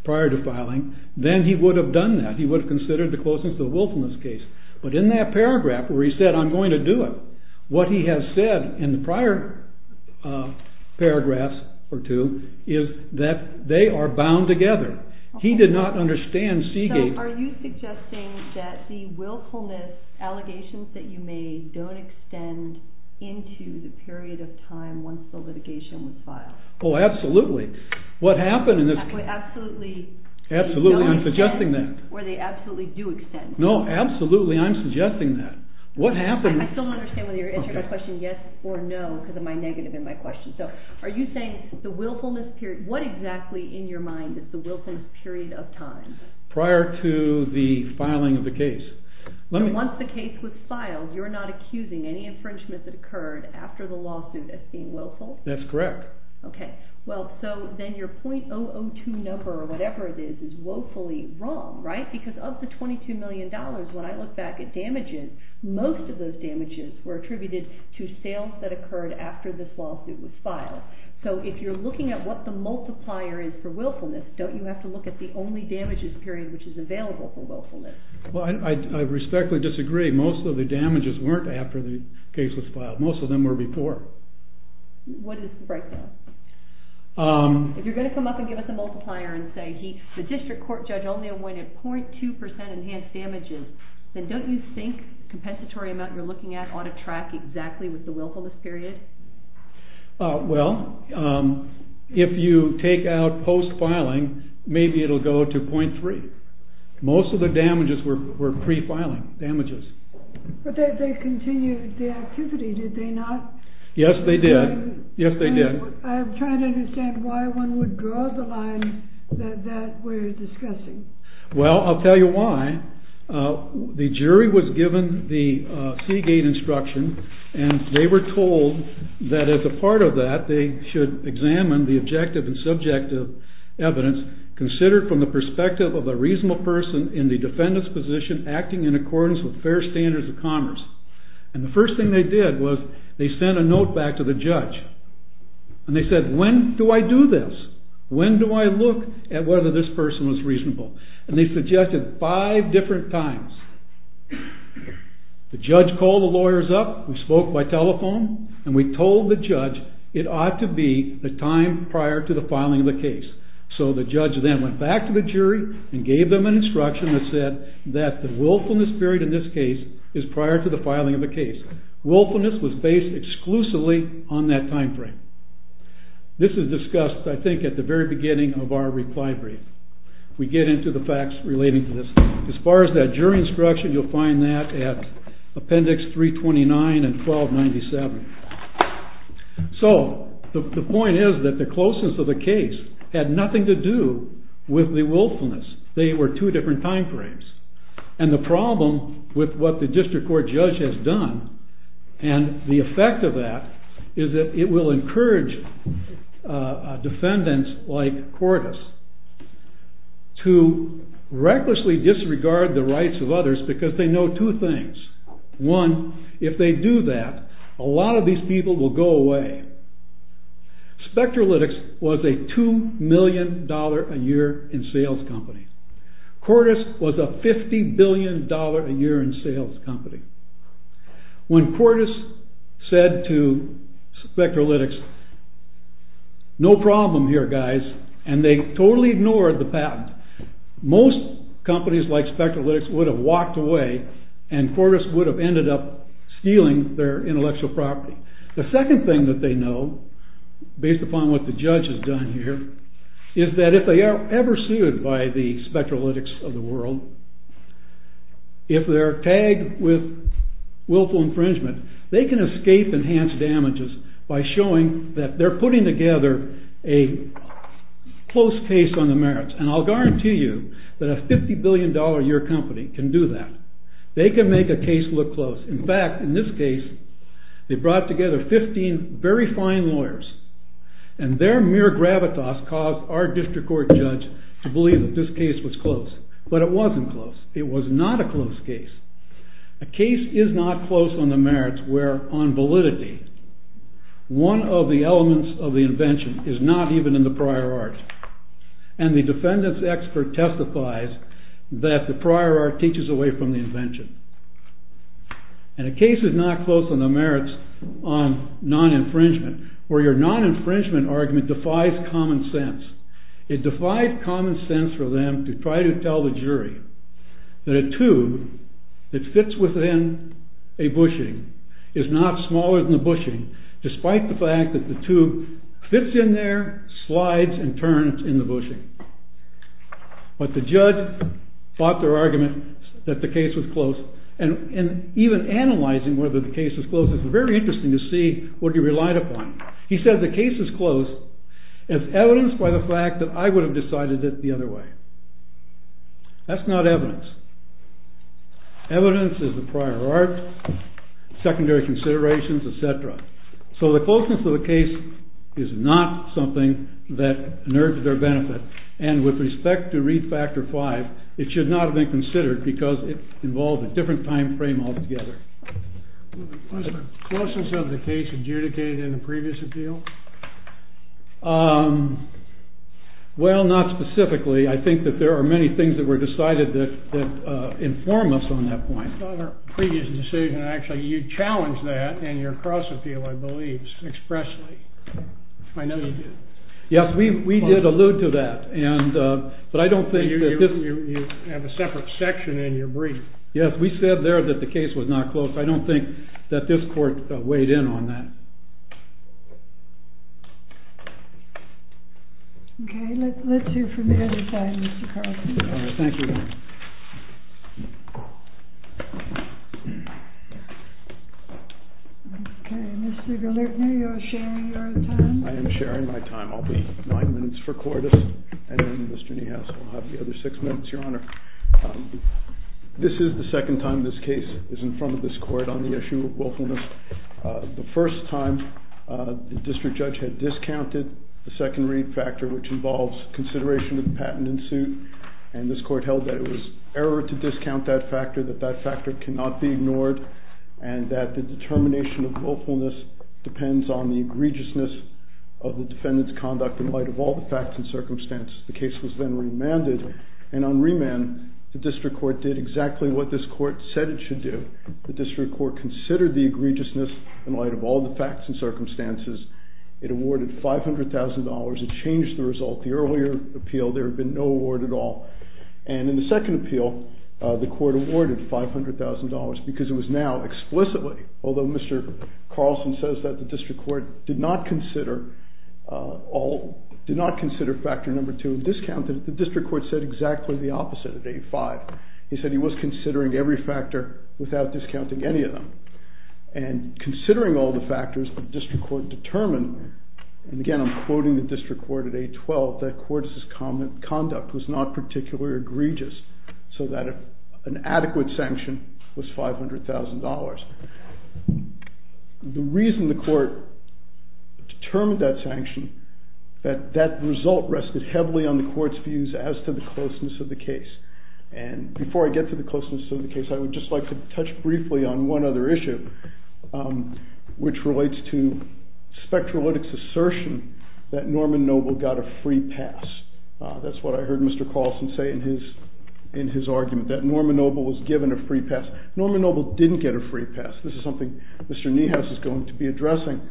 prior to filing, then he would have done that. He would have considered the closeness of the Willfulness case. But in that paragraph where he said, I'm going to do it, what he has said in the prior paragraphs or two is that they are bound together. He did not understand Seagate. So are you suggesting that the Willfulness allegations that you made don't extend into the period of time once the litigation was filed? Oh, absolutely. What happened in the Absolutely. Absolutely. I'm suggesting that. Or they absolutely do extend. No, absolutely. I'm suggesting that. What happened I still don't understand whether you're answering my question yes or no because of my negative in my question. So are you saying the Willfulness period, what exactly in your mind is the Willfulness period of time? Prior to the filing of the case. Once the case was filed, you're not accusing any infringement that occurred after the lawsuit as being willful? That's correct. OK. Well, so then your .002 number or whatever it is is woefully wrong, right? Because of the $22 million, when I look back at damages, most of those damages were attributed to sales that occurred after this lawsuit was filed. So if you're looking at what the multiplier is for Willfulness, don't you have to look at the only damages period which is available for Willfulness? Well, I respectfully disagree. Most of the damages weren't after the case was filed. Most of them were before. What is the breakdown? If you're going to come up and give us a multiplier and say the district court judge only awarded 0.2% enhanced damages, then don't you think the compensatory amount you're looking at ought to track exactly with the Willfulness period? Well, if you take out post-filing, maybe it'll go to 0.3. Most of the damages were pre-filing damages. But they continued the activity, did they not? Yes, they did. Yes, they did. I'm trying to understand why one would draw the line that that we're discussing. Well, I'll tell you why. The jury was given the Seagate instruction, and they were told that as a part of that, they should examine the objective and subjective evidence considered from the perspective of a reasonable person in the defendant's position acting in accordance with fair standards of commerce. And the first thing they did was they sent a note back to the judge. And they said, when do I do this? When do I look at whether this person was reasonable? And they suggested five different times. The judge called the lawyers up and spoke by telephone, and we told the judge it ought to be the time prior to the filing of the case. So the judge then went back to the jury and gave them an instruction that said that the willfulness period in this case is prior to the filing of the case. Willfulness was based exclusively on that time frame. This was discussed, I think, at the very beginning of our reply brief. We get into the facts relating to this. As far as that jury instruction, you'll find that at appendix 329 and 1297. So the point is that the closeness of the case had nothing to do with the willfulness. They were two different time frames. And the problem with what the district court judge has done and the effect of that is that it will encourage defendants like Cordes to recklessly disregard the rights of others because they know two things. One, if they do that, a lot of these people will go away. Spectralytics was a $2 million a year in sales company. Cordes was a $50 billion a year in sales company. When Cordes said to Spectralytics, no problem here, guys. And they totally ignored the patent. Most companies like Spectralytics would have walked away and Cordes would have ended up stealing their intellectual property. The second thing that they know, based upon what the judge has done here, is that if they are ever sued by the Spectralytics of the world, if they're tagged with willful infringement, they can escape enhanced damages by showing that they're putting together a close case on the merits. And I'll guarantee you that a $50 billion a year company can do that. They can make a case look close. In fact, in this case, they brought together 15 very fine lawyers. And their mere gravitas caused our district court judge to believe that this case was close. But it wasn't close. It was not a close case. A case is not close on the merits where, on validity, one of the elements of the invention is not even in the prior art. And the defendant's expert testifies that the prior art teaches away from the invention. And a case is not close on the merits on non-infringement where your non-infringement argument defies common sense. It defies common sense for them to try to tell the jury that a tube that fits within a bushing is not smaller than the bushing, despite the fact that the tube fits in there, slides, and turns in the bushing. But the judge thought their argument that the case was close. And even analyzing whether the case was close, it's very interesting to see what he relied upon. He said the case is close. It's evidenced by the fact that I would have decided it the other way. That's not evidence. Evidence is the prior art, secondary considerations, et cetera. So the closeness of a case is not something that nerves their benefit. And with respect to Read Factor 5, it should not be considered because it involves a different time frame altogether. Was the closeness of the case adjudicated in the previous appeal? Well, not specifically. I think that there are many things that were decided that inform us on that point. On our previous decision, actually, you challenged that in your cross-appeal, I believe, expressly. I know you did. Yes, we did allude to that. But I don't think it didn't. You had a separate section in your brief. Yes, we said there that the case was not close. I don't think that this court weighed in on that. OK, let's hear from the other side, Mr. Carlson. Thank you. Thank you. OK, Mr. Dillerton, you're sharing your time? I am sharing my time. I'll be nine minutes for Cortis. And then Mr. Niehaus will have the other six minutes, Your Honor. This is the second time this case is in front of this court on the issue of willfulness. The first time, the district judge had discounted the second Read Factor, which involves consideration of the patent in suit. And this court held that it was error to discount that factor, that that factor cannot be ignored, and that the determination of willfulness depends on the egregiousness of the defendant's conduct in light of all the facts and circumstances. The case was then remanded. And on remand, the district court did exactly what this court said it should do. The district court considered the egregiousness in light of all the facts and circumstances. It awarded $500,000. It changed the result. The earlier appeal, there had been no award at all. And in the second appeal, the court awarded $500,000 because it was now explicitly, although Mr. Carlson says that the district court did not consider all, did not consider factor number two and discounted it, the district court said exactly the opposite at 8-5. He said he was considering every factor without discounting any of them. And considering all the factors the district court determined, and again, I'm quoting the district court at 8-12, the court's conduct was not particularly egregious so that an adequate sanction was $500,000. The reason the court determined that sanction, that that result rested heavily on the court's views as to the closeness of the case. And before I get to the closeness of the case, I would just like to touch briefly on one other issue, which relates to Spectralytics' assertion that Norman Noble got a free pass. That's what I heard Mr. Carlson say in his argument, that Norman Noble was given a free pass. Norman Noble didn't get a free pass. This is something Mr. Niehaus is going to be addressing.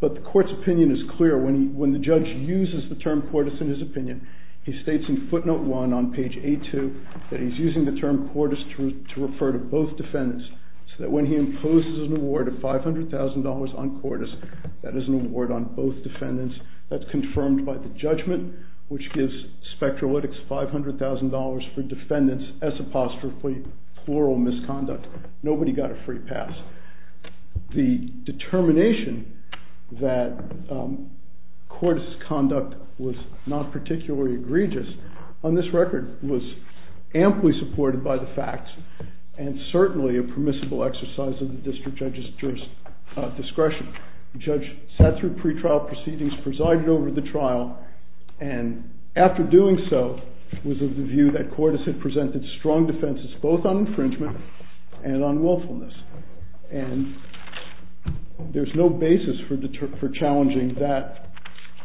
But the court's opinion is clear. When the judge uses the term portis in his opinion, he states in footnote one on page A2 that he's using the term portis to refer to both defendants so that when he imposes an award of $500,000 on portis, that is an award on both defendants. That's confirmed by the judgment, which gives Spectralytics $500,000 for defendants as apostrophically plural misconduct. Nobody got a free pass. The determination that court's conduct was not particularly egregious on this record was amply supported by the facts and certainly a permissible exercise of the district judge's discretion. The judge sat through pretrial proceedings, presided over the trial, and after doing so was of the view that portis had presented strong defenses both on infringement and on willfulness. And there's no basis for challenging that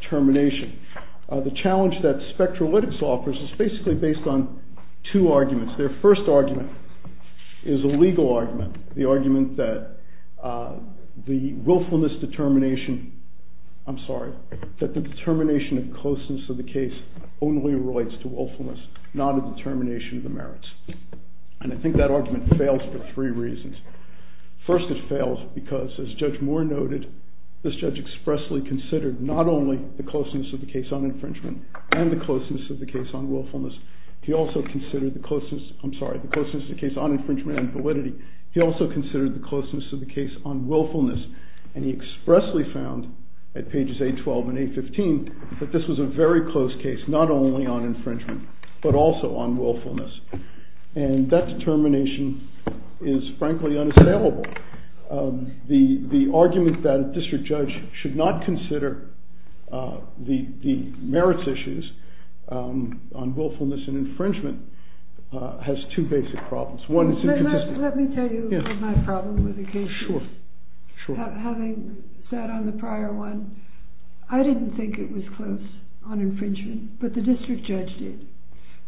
termination. The challenge that Spectralytics offers is basically based on two arguments. Their first argument is a legal argument, the argument that the willfulness determination... I'm sorry, that the determination and closeness of the case only relates to willfulness, not a determination of the merits. And I think that argument fails for three reasons. First, it fails because, as Judge Moore noted, this judge expressly considered not only the closeness of the case on infringement and the closeness of the case on willfulness, he also considered the closeness... I'm sorry, the closeness of the case on infringement and validity. He also considered the closeness of the case on willfulness, and he expressly found, at pages 812 and 815, that this was a very close case, not only on infringement, but also on willfulness. And that determination is, frankly, unassailable. The argument that a district judge should not consider the merits issues on willfulness and infringement has two basic problems. One is... Let me tell you my problem with the case. Sure, sure. Having sat on the prior one, I didn't think it was close on infringement, but the district judge did.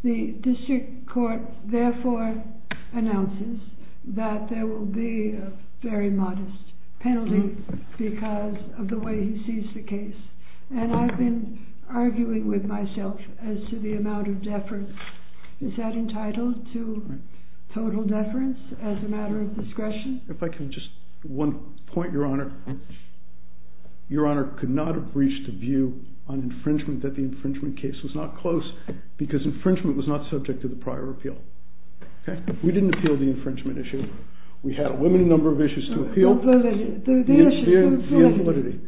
The district court therefore announces that there will be a very modest penalty because of the way he sees the case. And I've been arguing with myself as to the amount of deference. Is that entitled to total deference as a matter of discretion? If I could just... One point, Your Honor. Your Honor could not have reached a view on infringement that the infringement case was not close because infringement was not subject to the prior appeal. We didn't appeal the infringement issue. We had a limited number of issues to appeal. The issue of validity.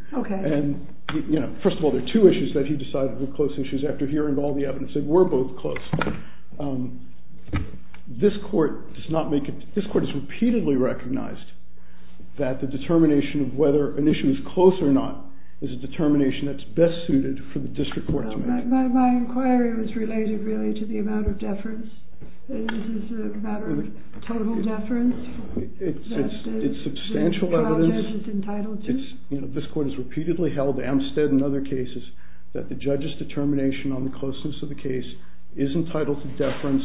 First of all, there are two issues that he decided were close issues after hearing all the evidence that were both close. This court does not make it... This court has repeatedly recognized that the determination of whether an issue is close or not is a determination that's best suited for the district court to make. My inquiry was related really to the amount of deference. Is this a matter of total deference? It's substantial evidence. This court has repeatedly held, Amstead and other cases, that the judge's determination on the closeness of the case is entitled to deference,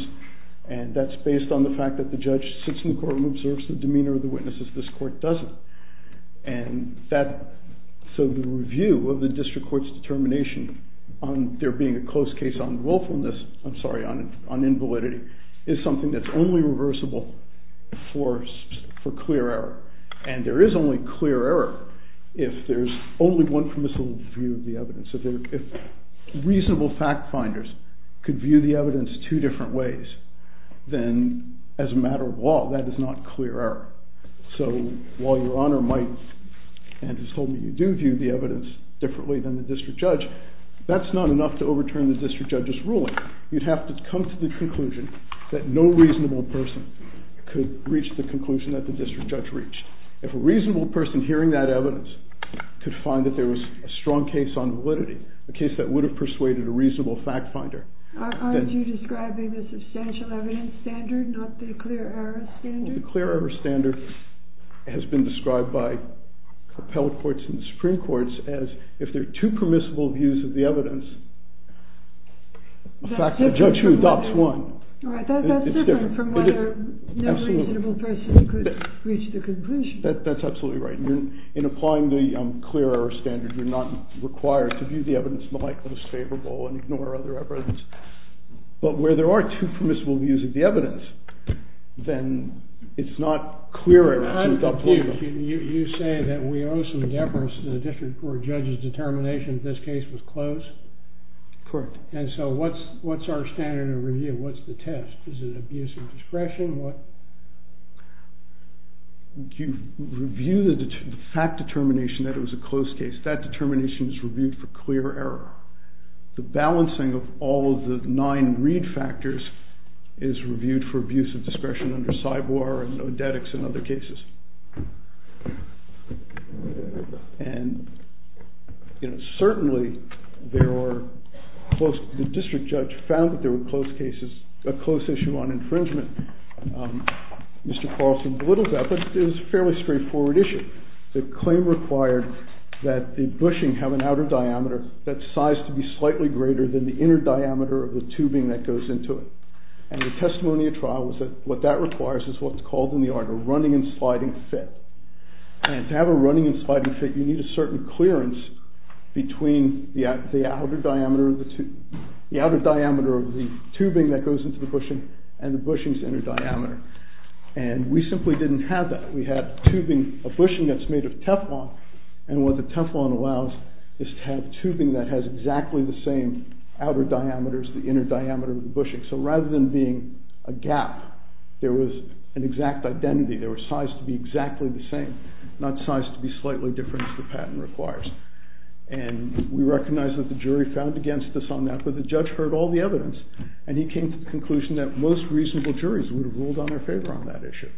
and that's based on the fact that the judge sits in the court and observes the demeanor of the witnesses. This court doesn't. And so the review of the district court's determination on there being a close case on willfulness, I'm sorry, on invalidity, is something that's only reversible for clear error. And there is only clear error if there's only one permissible view of the evidence. If reasonable fact-finders could view the evidence two different ways, then as a matter of law, that is not clear error. So while Your Honor might and has told me you do view the evidence differently than the district judge, that's not enough to overturn the district judge's ruling. You'd have to come to the conclusion that no reasonable person could reach the conclusion that the district judge reached. If a reasonable person hearing that evidence could find that there was a strong case on validity, a case that would have persuaded a reasonable fact-finder... Aren't you describing the substantial evidence standard, not the clear error standard? The clear error standard has been described by appellate courts and Supreme Courts as if there are two permissible views of the evidence, in fact, I judge you, that's one. Right, that's different from whether no reasonable person could reach the conclusion. That's absolutely right. In applying the clear error standard, you're not required to view the evidence in the light that is favorable and ignore other evidence. But where there are two permissible views of the evidence, then it's not clear error. You say that we owe some deference to the district court judge's determination that this case was closed? Correct. And so what's our standard of review? What's the test? Is it abuse of discretion? You review the fact determination that it was a closed case. That determination is reviewed for clear error. The balancing of all of the nine greed factors is reviewed for abuse of discretion under CYBORG and ODETICS and other cases. And certainly, the district judge found that there were closed cases, a closed issue on infringement. Mr. Carlson belittles that. That is a fairly straightforward issue. The claim required that the bushing have an outer diameter that's sized to be slightly greater than the inner diameter of the tubing that goes into it. And the testimony of trial was that what that requires is what's called in the art of running and sliding fit. And to have a running and sliding fit, you need a certain clearance between the outer diameter of the tubing that goes into the bushing and the bushing's inner diameter. And we simply didn't have that. We had a bushing that's made of Teflon. And what the Teflon allows is to have tubing that has exactly the same outer diameter as the inner diameter of the bushing. So rather than being a gap, there was an exact identity. They were sized to be exactly the same, not sized to be slightly different, as the patent requires. And we recognize that the jury found against this on that. But the judge heard all the evidence. And he came to the conclusion that most reasonable juries would have ruled in their favor on that issue.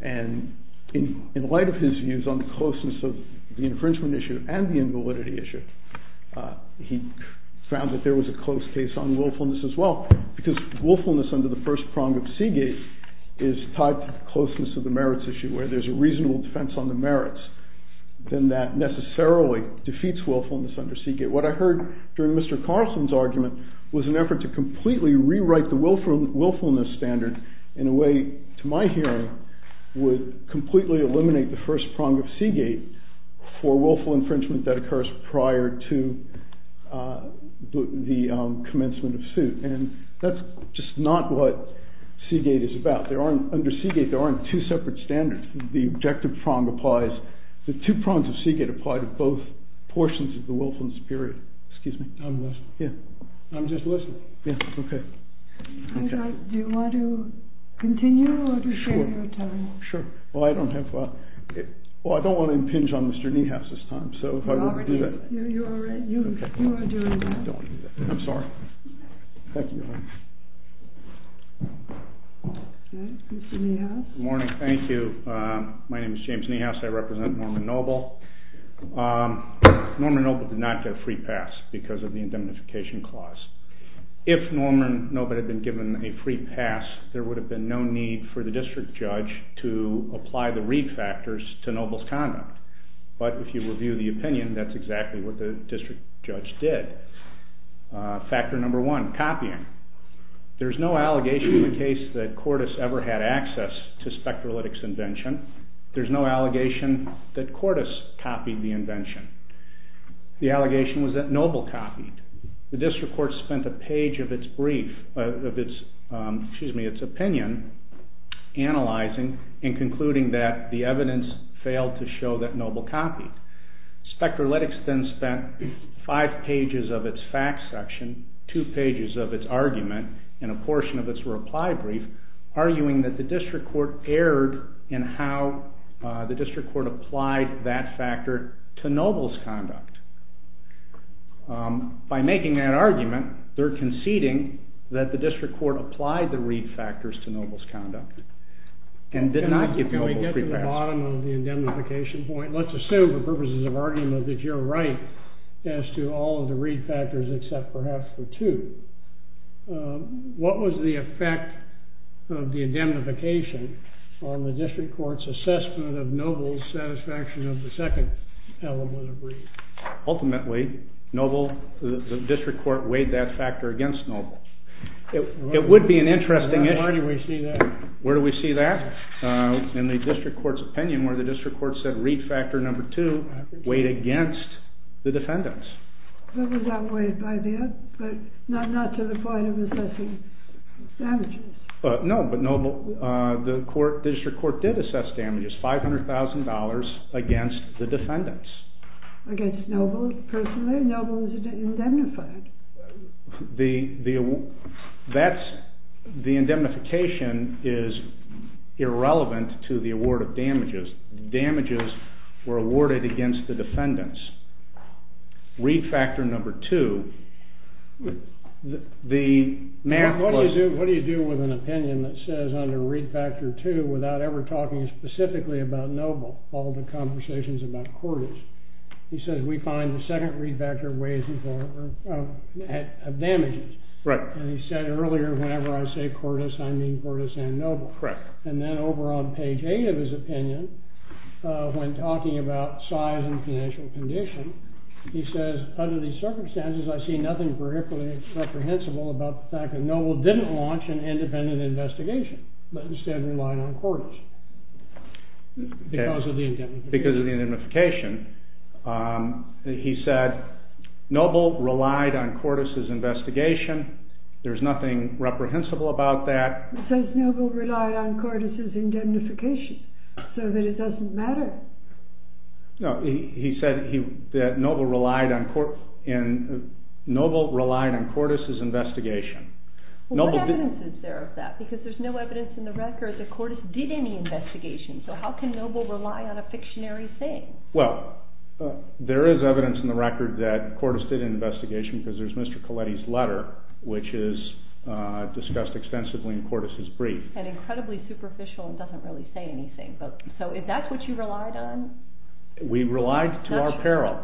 And in light of his views on the closeness of the infringement issue and the invalidity issue, he found that there was a closed case on willfulness as well. Because willfulness under the first prong of Seagate is tied to the closeness of the merits issue, where there's a reasonable defense on the merits, then that necessarily defeats willfulness under Seagate. What I heard during Mr. Carson's argument was an effort to completely rewrite the willfulness standard in a way, to my hearing, would completely eliminate the first prong of Seagate for willful infringement that occurs prior to the commencement of suit. And that's just not what Seagate is about. Under Seagate, there aren't two separate standards. The objective prong applies. The two prongs of Seagate apply to both portions of the willfulness period. Excuse me. I'm listening. Yeah. I'm just listening. Yeah. OK. Do you want to continue? Sure. Sure. Well, I don't have a lot. Well, I don't want to impinge on Mr. Niehaus this time. So if I were to do that. You're all right. You are doing that. I'm sorry. Thank you. Good morning, Mr. Niehaus. Good morning. Thank you. My name is James Niehaus. I represent Norman Noble. Norman Noble did not get a free pass because of the indemnification clause. If Norman Noble had been given a free pass, there would have been no need for the district judge to apply the read factors to Noble's conduct. But if you review the opinion, that's exactly what the district judge did. Factor number one, copying. There's no allegation in the case that Cordes ever had access to Spectralytics' invention. There's no allegation that Cordes copied the invention. The allegation was that Noble copied. The district court spent a page of its brief, of its opinion, analyzing and concluding that the evidence failed to show that Noble copied. Spectralytics then spent five pages of its fact section, two pages of its argument, and a portion of its reply brief, arguing that the district court erred in how the district court applied that factor to Noble's conduct. By making that argument, they're conceding that the district court applied the read factors to Noble's conduct and did not give Noble free pass. Can we get to the bottom of the indemnification point? Let's assume, for purposes of argument, that you're right as to all of the read factors except perhaps for two. What was the effect of the indemnification on the district court's assessment of Noble's satisfaction of the second element of read? Ultimately, the district court weighed that factor against Noble. It would be an interesting issue. Where do we see that? In the district court's opinion, where the district court said read factor number two weighed against the defendants. Noble got weighed by that, but not to the point of assessing damages. No, but the district court did assess damages, $500,000 against the defendants. Against Noble, personally. Noble was indemnified. The indemnification is irrelevant to the award of damages. Damages were awarded against the defendants. Read factor number two, the math was. What do you do with an opinion that says under read factor two, without ever talking specifically about Noble, all the conversations about Cordes? He says, we find the second read factor weighs advantages. I mean Cordes and Noble. Correct. And then over on page A of his opinion, when talking about size and financial condition, he says, under these circumstances, I see nothing particularly reprehensible about the fact that Noble didn't launch an independent investigation, but instead relied on Cordes. Because of the indemnification. Because of the indemnification. He said, Noble relied on Cordes' investigation. There's nothing reprehensible about that. He says, Noble relied on Cordes' indemnification, so that it doesn't matter. No, he said that Noble relied on Cordes' investigation. What evidence is there of that? Because there's no evidence in the record that Cordes did any investigation. So how can Noble rely on a fictionary saying? Well, there is evidence in the record that Cordes did an investigation, because there's Mr. Colletti's letter, which is discussed extensively in Cordes' brief. And incredibly superficial, and doesn't really say anything. So is that what you relied on? We relied to our peril.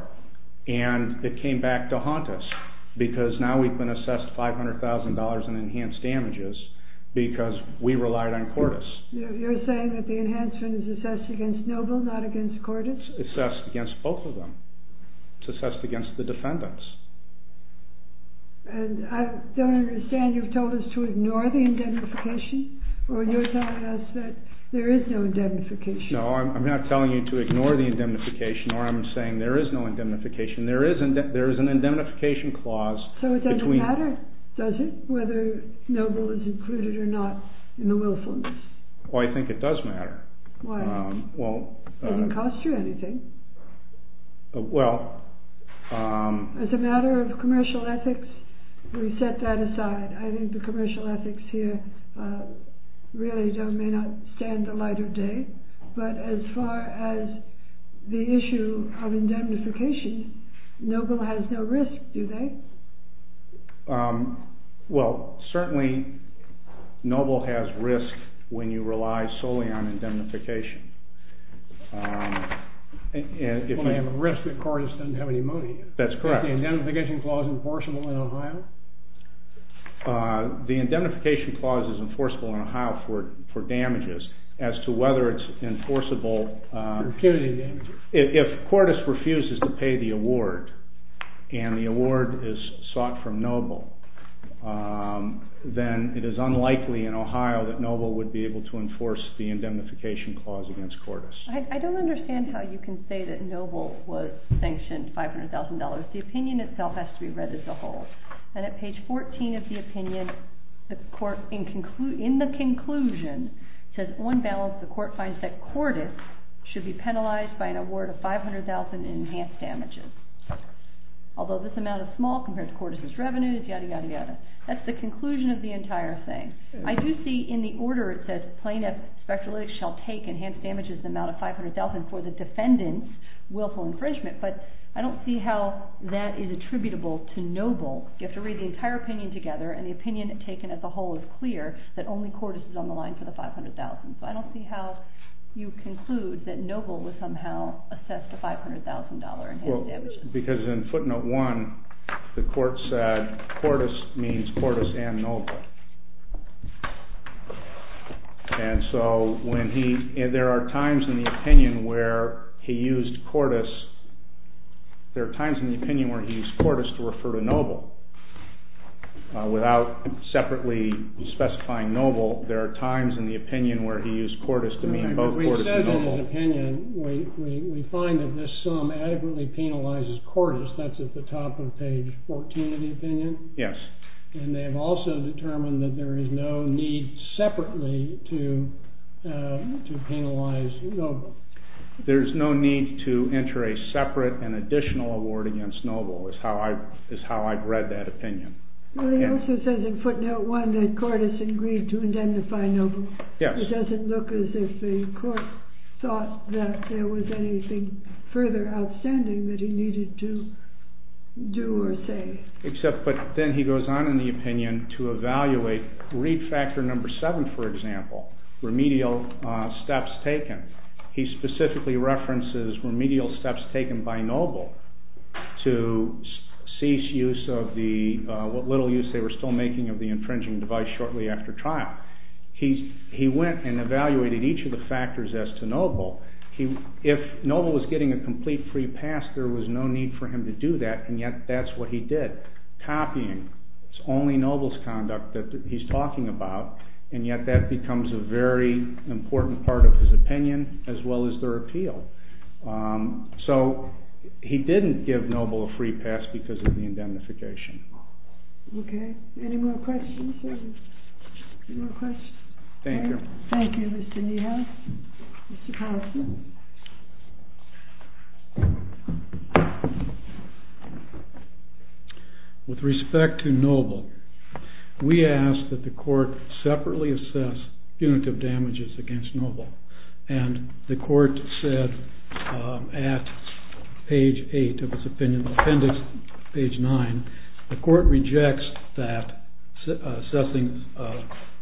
And it came back to haunt us, because now we've been assessed $500,000 in enhanced damages, because we relied on Cordes. You're saying that the enhancement is assessed against Noble, not against Cordes? It's assessed against both of them. It's assessed against the defendants. And I don't understand. You've told us to ignore the indemnification, or you're telling us that there is no indemnification? No, I'm not telling you to ignore the indemnification. I'm saying there is no indemnification. There is an indemnification clause. So it doesn't matter, does it, whether Noble is included or not in the willfulness? Oh, I think it does matter. Why? It doesn't cost you anything. Well, um. As a matter of commercial ethics, we set that aside. I think the commercial ethics here really may not stand the light of day. But as far as the issue of indemnification, Noble has no risk, do they? Well, certainly Noble has risk when you rely solely on indemnification. Only on the risk that Cordes doesn't have any money. That's correct. Is the indemnification clause enforceable in Ohio? The indemnification clause is enforceable in Ohio for damages. As to whether it's enforceable. If Cordes refuses to pay the award, and the award is sought from Noble, then it is unlikely in Ohio that Noble would be able to enforce the indemnification clause against Cordes. I don't understand how you can say that Noble was sanctioned $500,000. The opinion itself has to be read as a whole. And at page 14 of the opinion, in the conclusion, it says, on balance, the court finds that Cordes should be penalized by an award of $500,000 in enhanced damages. Although this amount is small compared to Cordes' revenue, yada, yada, yada. That's the conclusion of the entire thing. I do see in the order it says, plaintiff speculates shall take enhanced damages amount of $500,000 for the defendant's willful infringement. But I don't see how that is attributable to Noble. You have to read the entire opinion together. And the opinion taken as a whole is clear that only Cordes is on the line for the $500,000. So I don't see how you conclude that Noble would somehow assess the $500,000 enhanced damages. Well, because in footnote one, the court said Cordes means Cordes and Noble. And so there are times in the opinion where he used Cordes. There are times in the opinion where he used Cordes to refer to Noble. Without separately specifying Noble, there are times in the opinion where he used Cordes to mean both Cordes and Noble. We said in the opinion, we find that this sum adequately penalizes Cordes. That's at the top of page 14 of the opinion. Yes. And they have also determined that there is no need separately to penalize Noble. There's no need to enter a separate and additional award against Noble, is how I've read that opinion. It also says in footnote one that Cordes agreed to identify Noble. Yes. It doesn't look as if the court thought that there was anything further outstanding that he needed to do or say. But then he goes on in the opinion to evaluate read factor number seven, for example, remedial steps taken. He specifically references remedial steps taken by Noble to cease use of the little use they were still making of the infringing device shortly after trial. He went and evaluated each of the factors as to Noble. If Noble was getting a complete free pass, there was no need for him to do that. And yet that's what he did, copying only Noble's conduct that he's talking about. And yet that becomes a very important part of his opinion, as well as their appeal. So he didn't give Noble a free pass because of the indemnification. OK. Any more questions? Any more questions? Thank you. Thank you, Mr. Neal. Mr. Carlson. With respect to Noble, we ask that the court separately assess punitive damages against Noble. And the court said at page eight of its opinion, appendix page nine, the court rejects that, assessing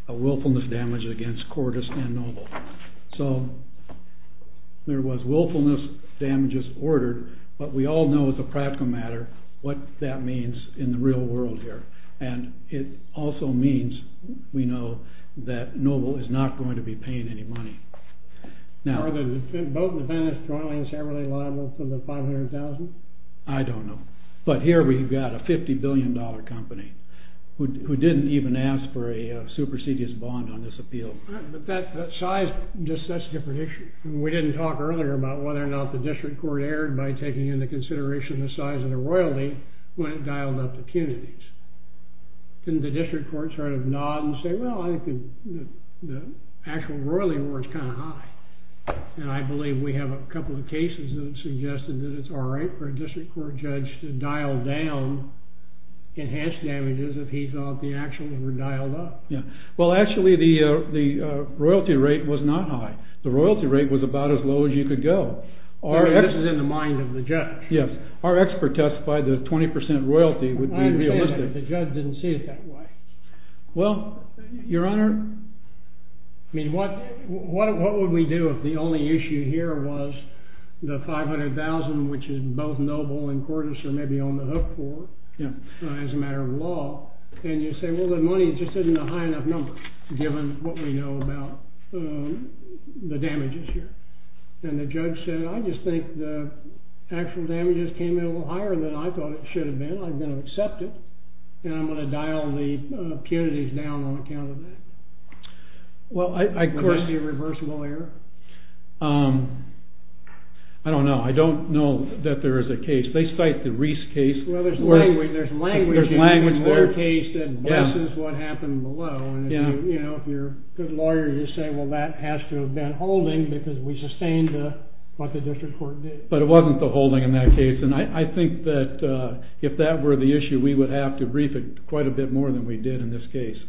a willfulness damage against Cordes and Noble. So there was willfulness damages ordered. But we all know, as a practical matter, what that means in the real world here. And it also means, we know, that Noble is not going to be paying any money. Now, are there two boat-independent trialings every day liable for the $500,000? I don't know. But here we've got a $50 billion company who didn't even ask for a supersedious bond on this appeal. But that size just sets the prediction. We didn't talk earlier about whether or not the district court erred by taking into consideration the size of the royalty when it dialed up the punitives. Didn't the district court sort of nod and say, well, the actual royalty was kind of high. And I believe we have a couple of cases that suggested that it's all right for a district court judge to dial down enhanced damages if he thought the action were dialed up. Well, actually, the royalty rate was not high. The royalty rate was about as low as you could go. But this is in the mind of the judge. Yes. Our expert testified that 20% royalty would be realistic. I understand, but the judge didn't see it that way. Well, Your Honor, what would we do if the only issue here was the $500,000, which is both noble and courtesan, maybe on the hook for it, as a matter of law. And you say, well, the money just isn't a high enough number, given what we know about the damages here. And the judge said, I just think the actual damages came in a little higher than I thought it should have been. I'm going to accept it. And I'm going to dial the impunities down on account of it. Well, of course. Am I going to be a reverse lawyer? I don't know. I don't know that there is a case. They cite the Reese case. Well, there's language. There's language. There's language there. There's a case that blesses what happened below. And if the lawyer is just saying, well, that has to have been holding, because we sustained what the district court did. But it wasn't the holding in that case. And I think that if that were the issue, we would have to brief it quite a bit more than we did in this case.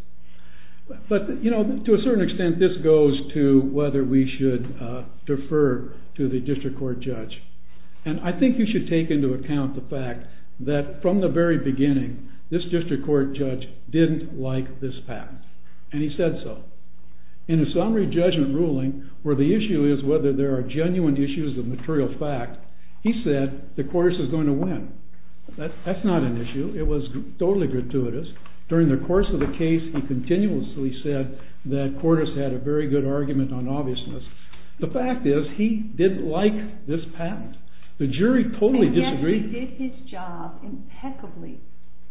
But to a certain extent, this goes to whether we should defer to the district court judge. And I think we should take into account the fact that from the very beginning, this district court judge didn't like this patent. And he said so. In the summary judgment ruling, where the issue is whether there are genuine issues of material fact, he said that Cordes is going to win. That's not an issue. It was totally gratuitous. During the course of the case, he continuously said that Cordes had a very good argument on obviousness. The fact is, he didn't like this patent. The jury totally disagreed. He did his job impeccably.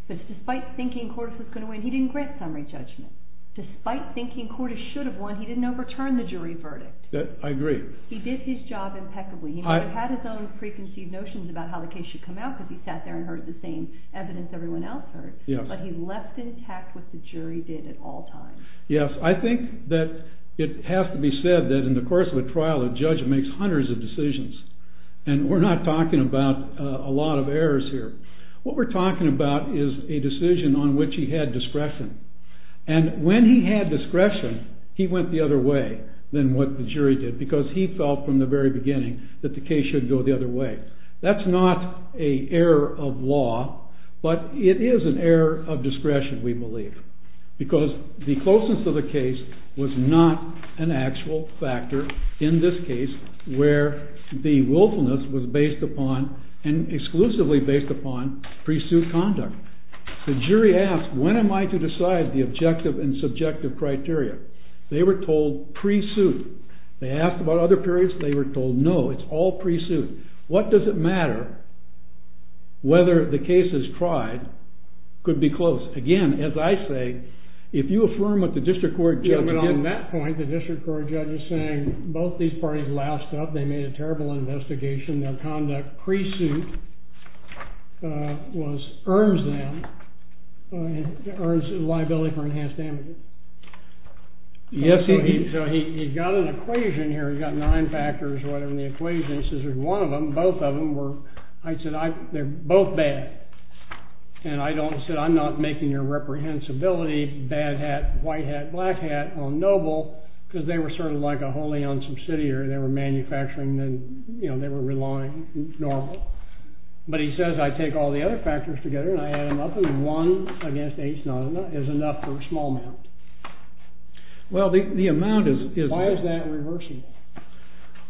But despite thinking Cordes was going to win, he didn't grant summary judgment. Despite thinking Cordes should have won, he didn't overturn the jury verdict. I agree. He did his job impeccably. He never had his own preconceived notions about how the case should come out, because he sat there and heard the same evidence everyone else heard. But he left intact what the jury did at all times. Yes. I think that it has to be said that in the course of a trial, a judge makes hundreds of decisions. And we're not talking about a lot of errors here. What we're talking about is a decision on which he had discretion. And when he had discretion, he went the other way than what the jury did, because he felt from the very beginning that the case should go the other way. That's not an error of law, but it is an error of discretion, we believe. Because the closeness of the case was not an actual factor in this case, where the willfulness was based upon, and exclusively based upon, pre-suit conduct. The jury asked, when am I to decide the objective and subjective criteria? They were told, pre-suit. They asked about other periods. They were told, no, it's all pre-suit. What does it matter whether the case is tried? Could be close. Again, as I say, if you affirm what the district court judge said at that point, the district court judge was saying, both these parties laughed up. They made a terrible investigation. Their conduct pre-suit earns them liability for enhanced damages. So he's got an equation here. He's got nine factors in the equation. He says, if one of them, both of them were, I'd say, they're both bad. And I don't say, I'm not making your reprehensibility, bad hat, white hat, black hat, or noble, because they were sort of like a wholly owned subsidiary. They were manufacturing, and they were relying on noble. But he says, I take all the other factors together, and I add them up. And one against each none is enough for a small amount. Well, the amount is. Why is that reversible?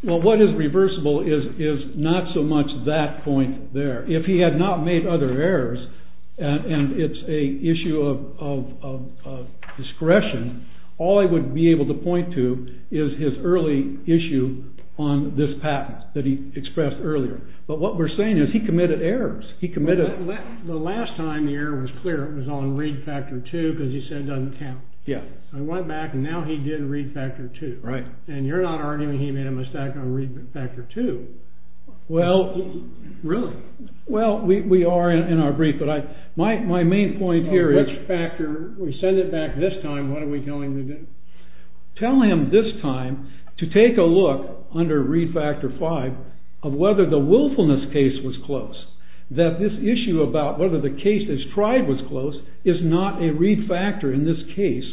Well, what is reversible is not so much that point there. If he had not made other errors, and it's an issue of discretion, all he would be able to point to is his early issue on this patent that he expressed earlier. But what we're saying is he committed errors. He committed. The last time the error was clear, it was on read factor 2, because he said it doesn't count. I went back, and now he did read factor 2. Right. And you're not arguing he made a mistake on read factor 2. Well. Really? Well, we are in our brief. But my main point here is. On which factor? We send it back this time. What are we telling him to do? Tell him this time to take a look under read factor 5 of whether the willfulness case was close. That this issue about whether the case that's tried was close is not a read factor in this case,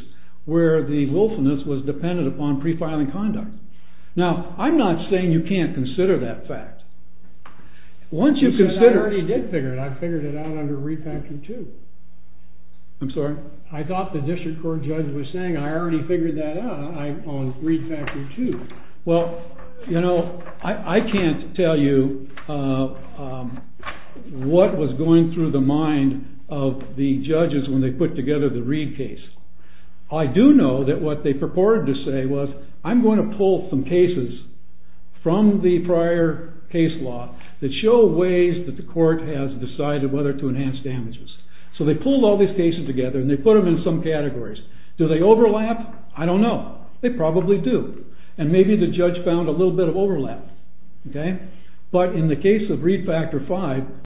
where the willfulness was dependent upon pre-filing conduct. Now, I'm not saying you can't consider that fact. Once you consider it. I already did figure it. I figured it out under read factor 2. I'm sorry? I thought the district court judge was saying, I already figured that out on read factor 2. Well, you know, I can't tell you what was going through the mind of the judges when they put together the Reed case. I do know that what they purported to say was, I'm going to pull some cases from the prior case law that show ways that the court has decided whether to enhance damages. So they pulled all these cases together and they put them in some categories. Do they overlap? I don't know. They probably do. And maybe the judge found a little bit of overlap. But in the case of read factor 5.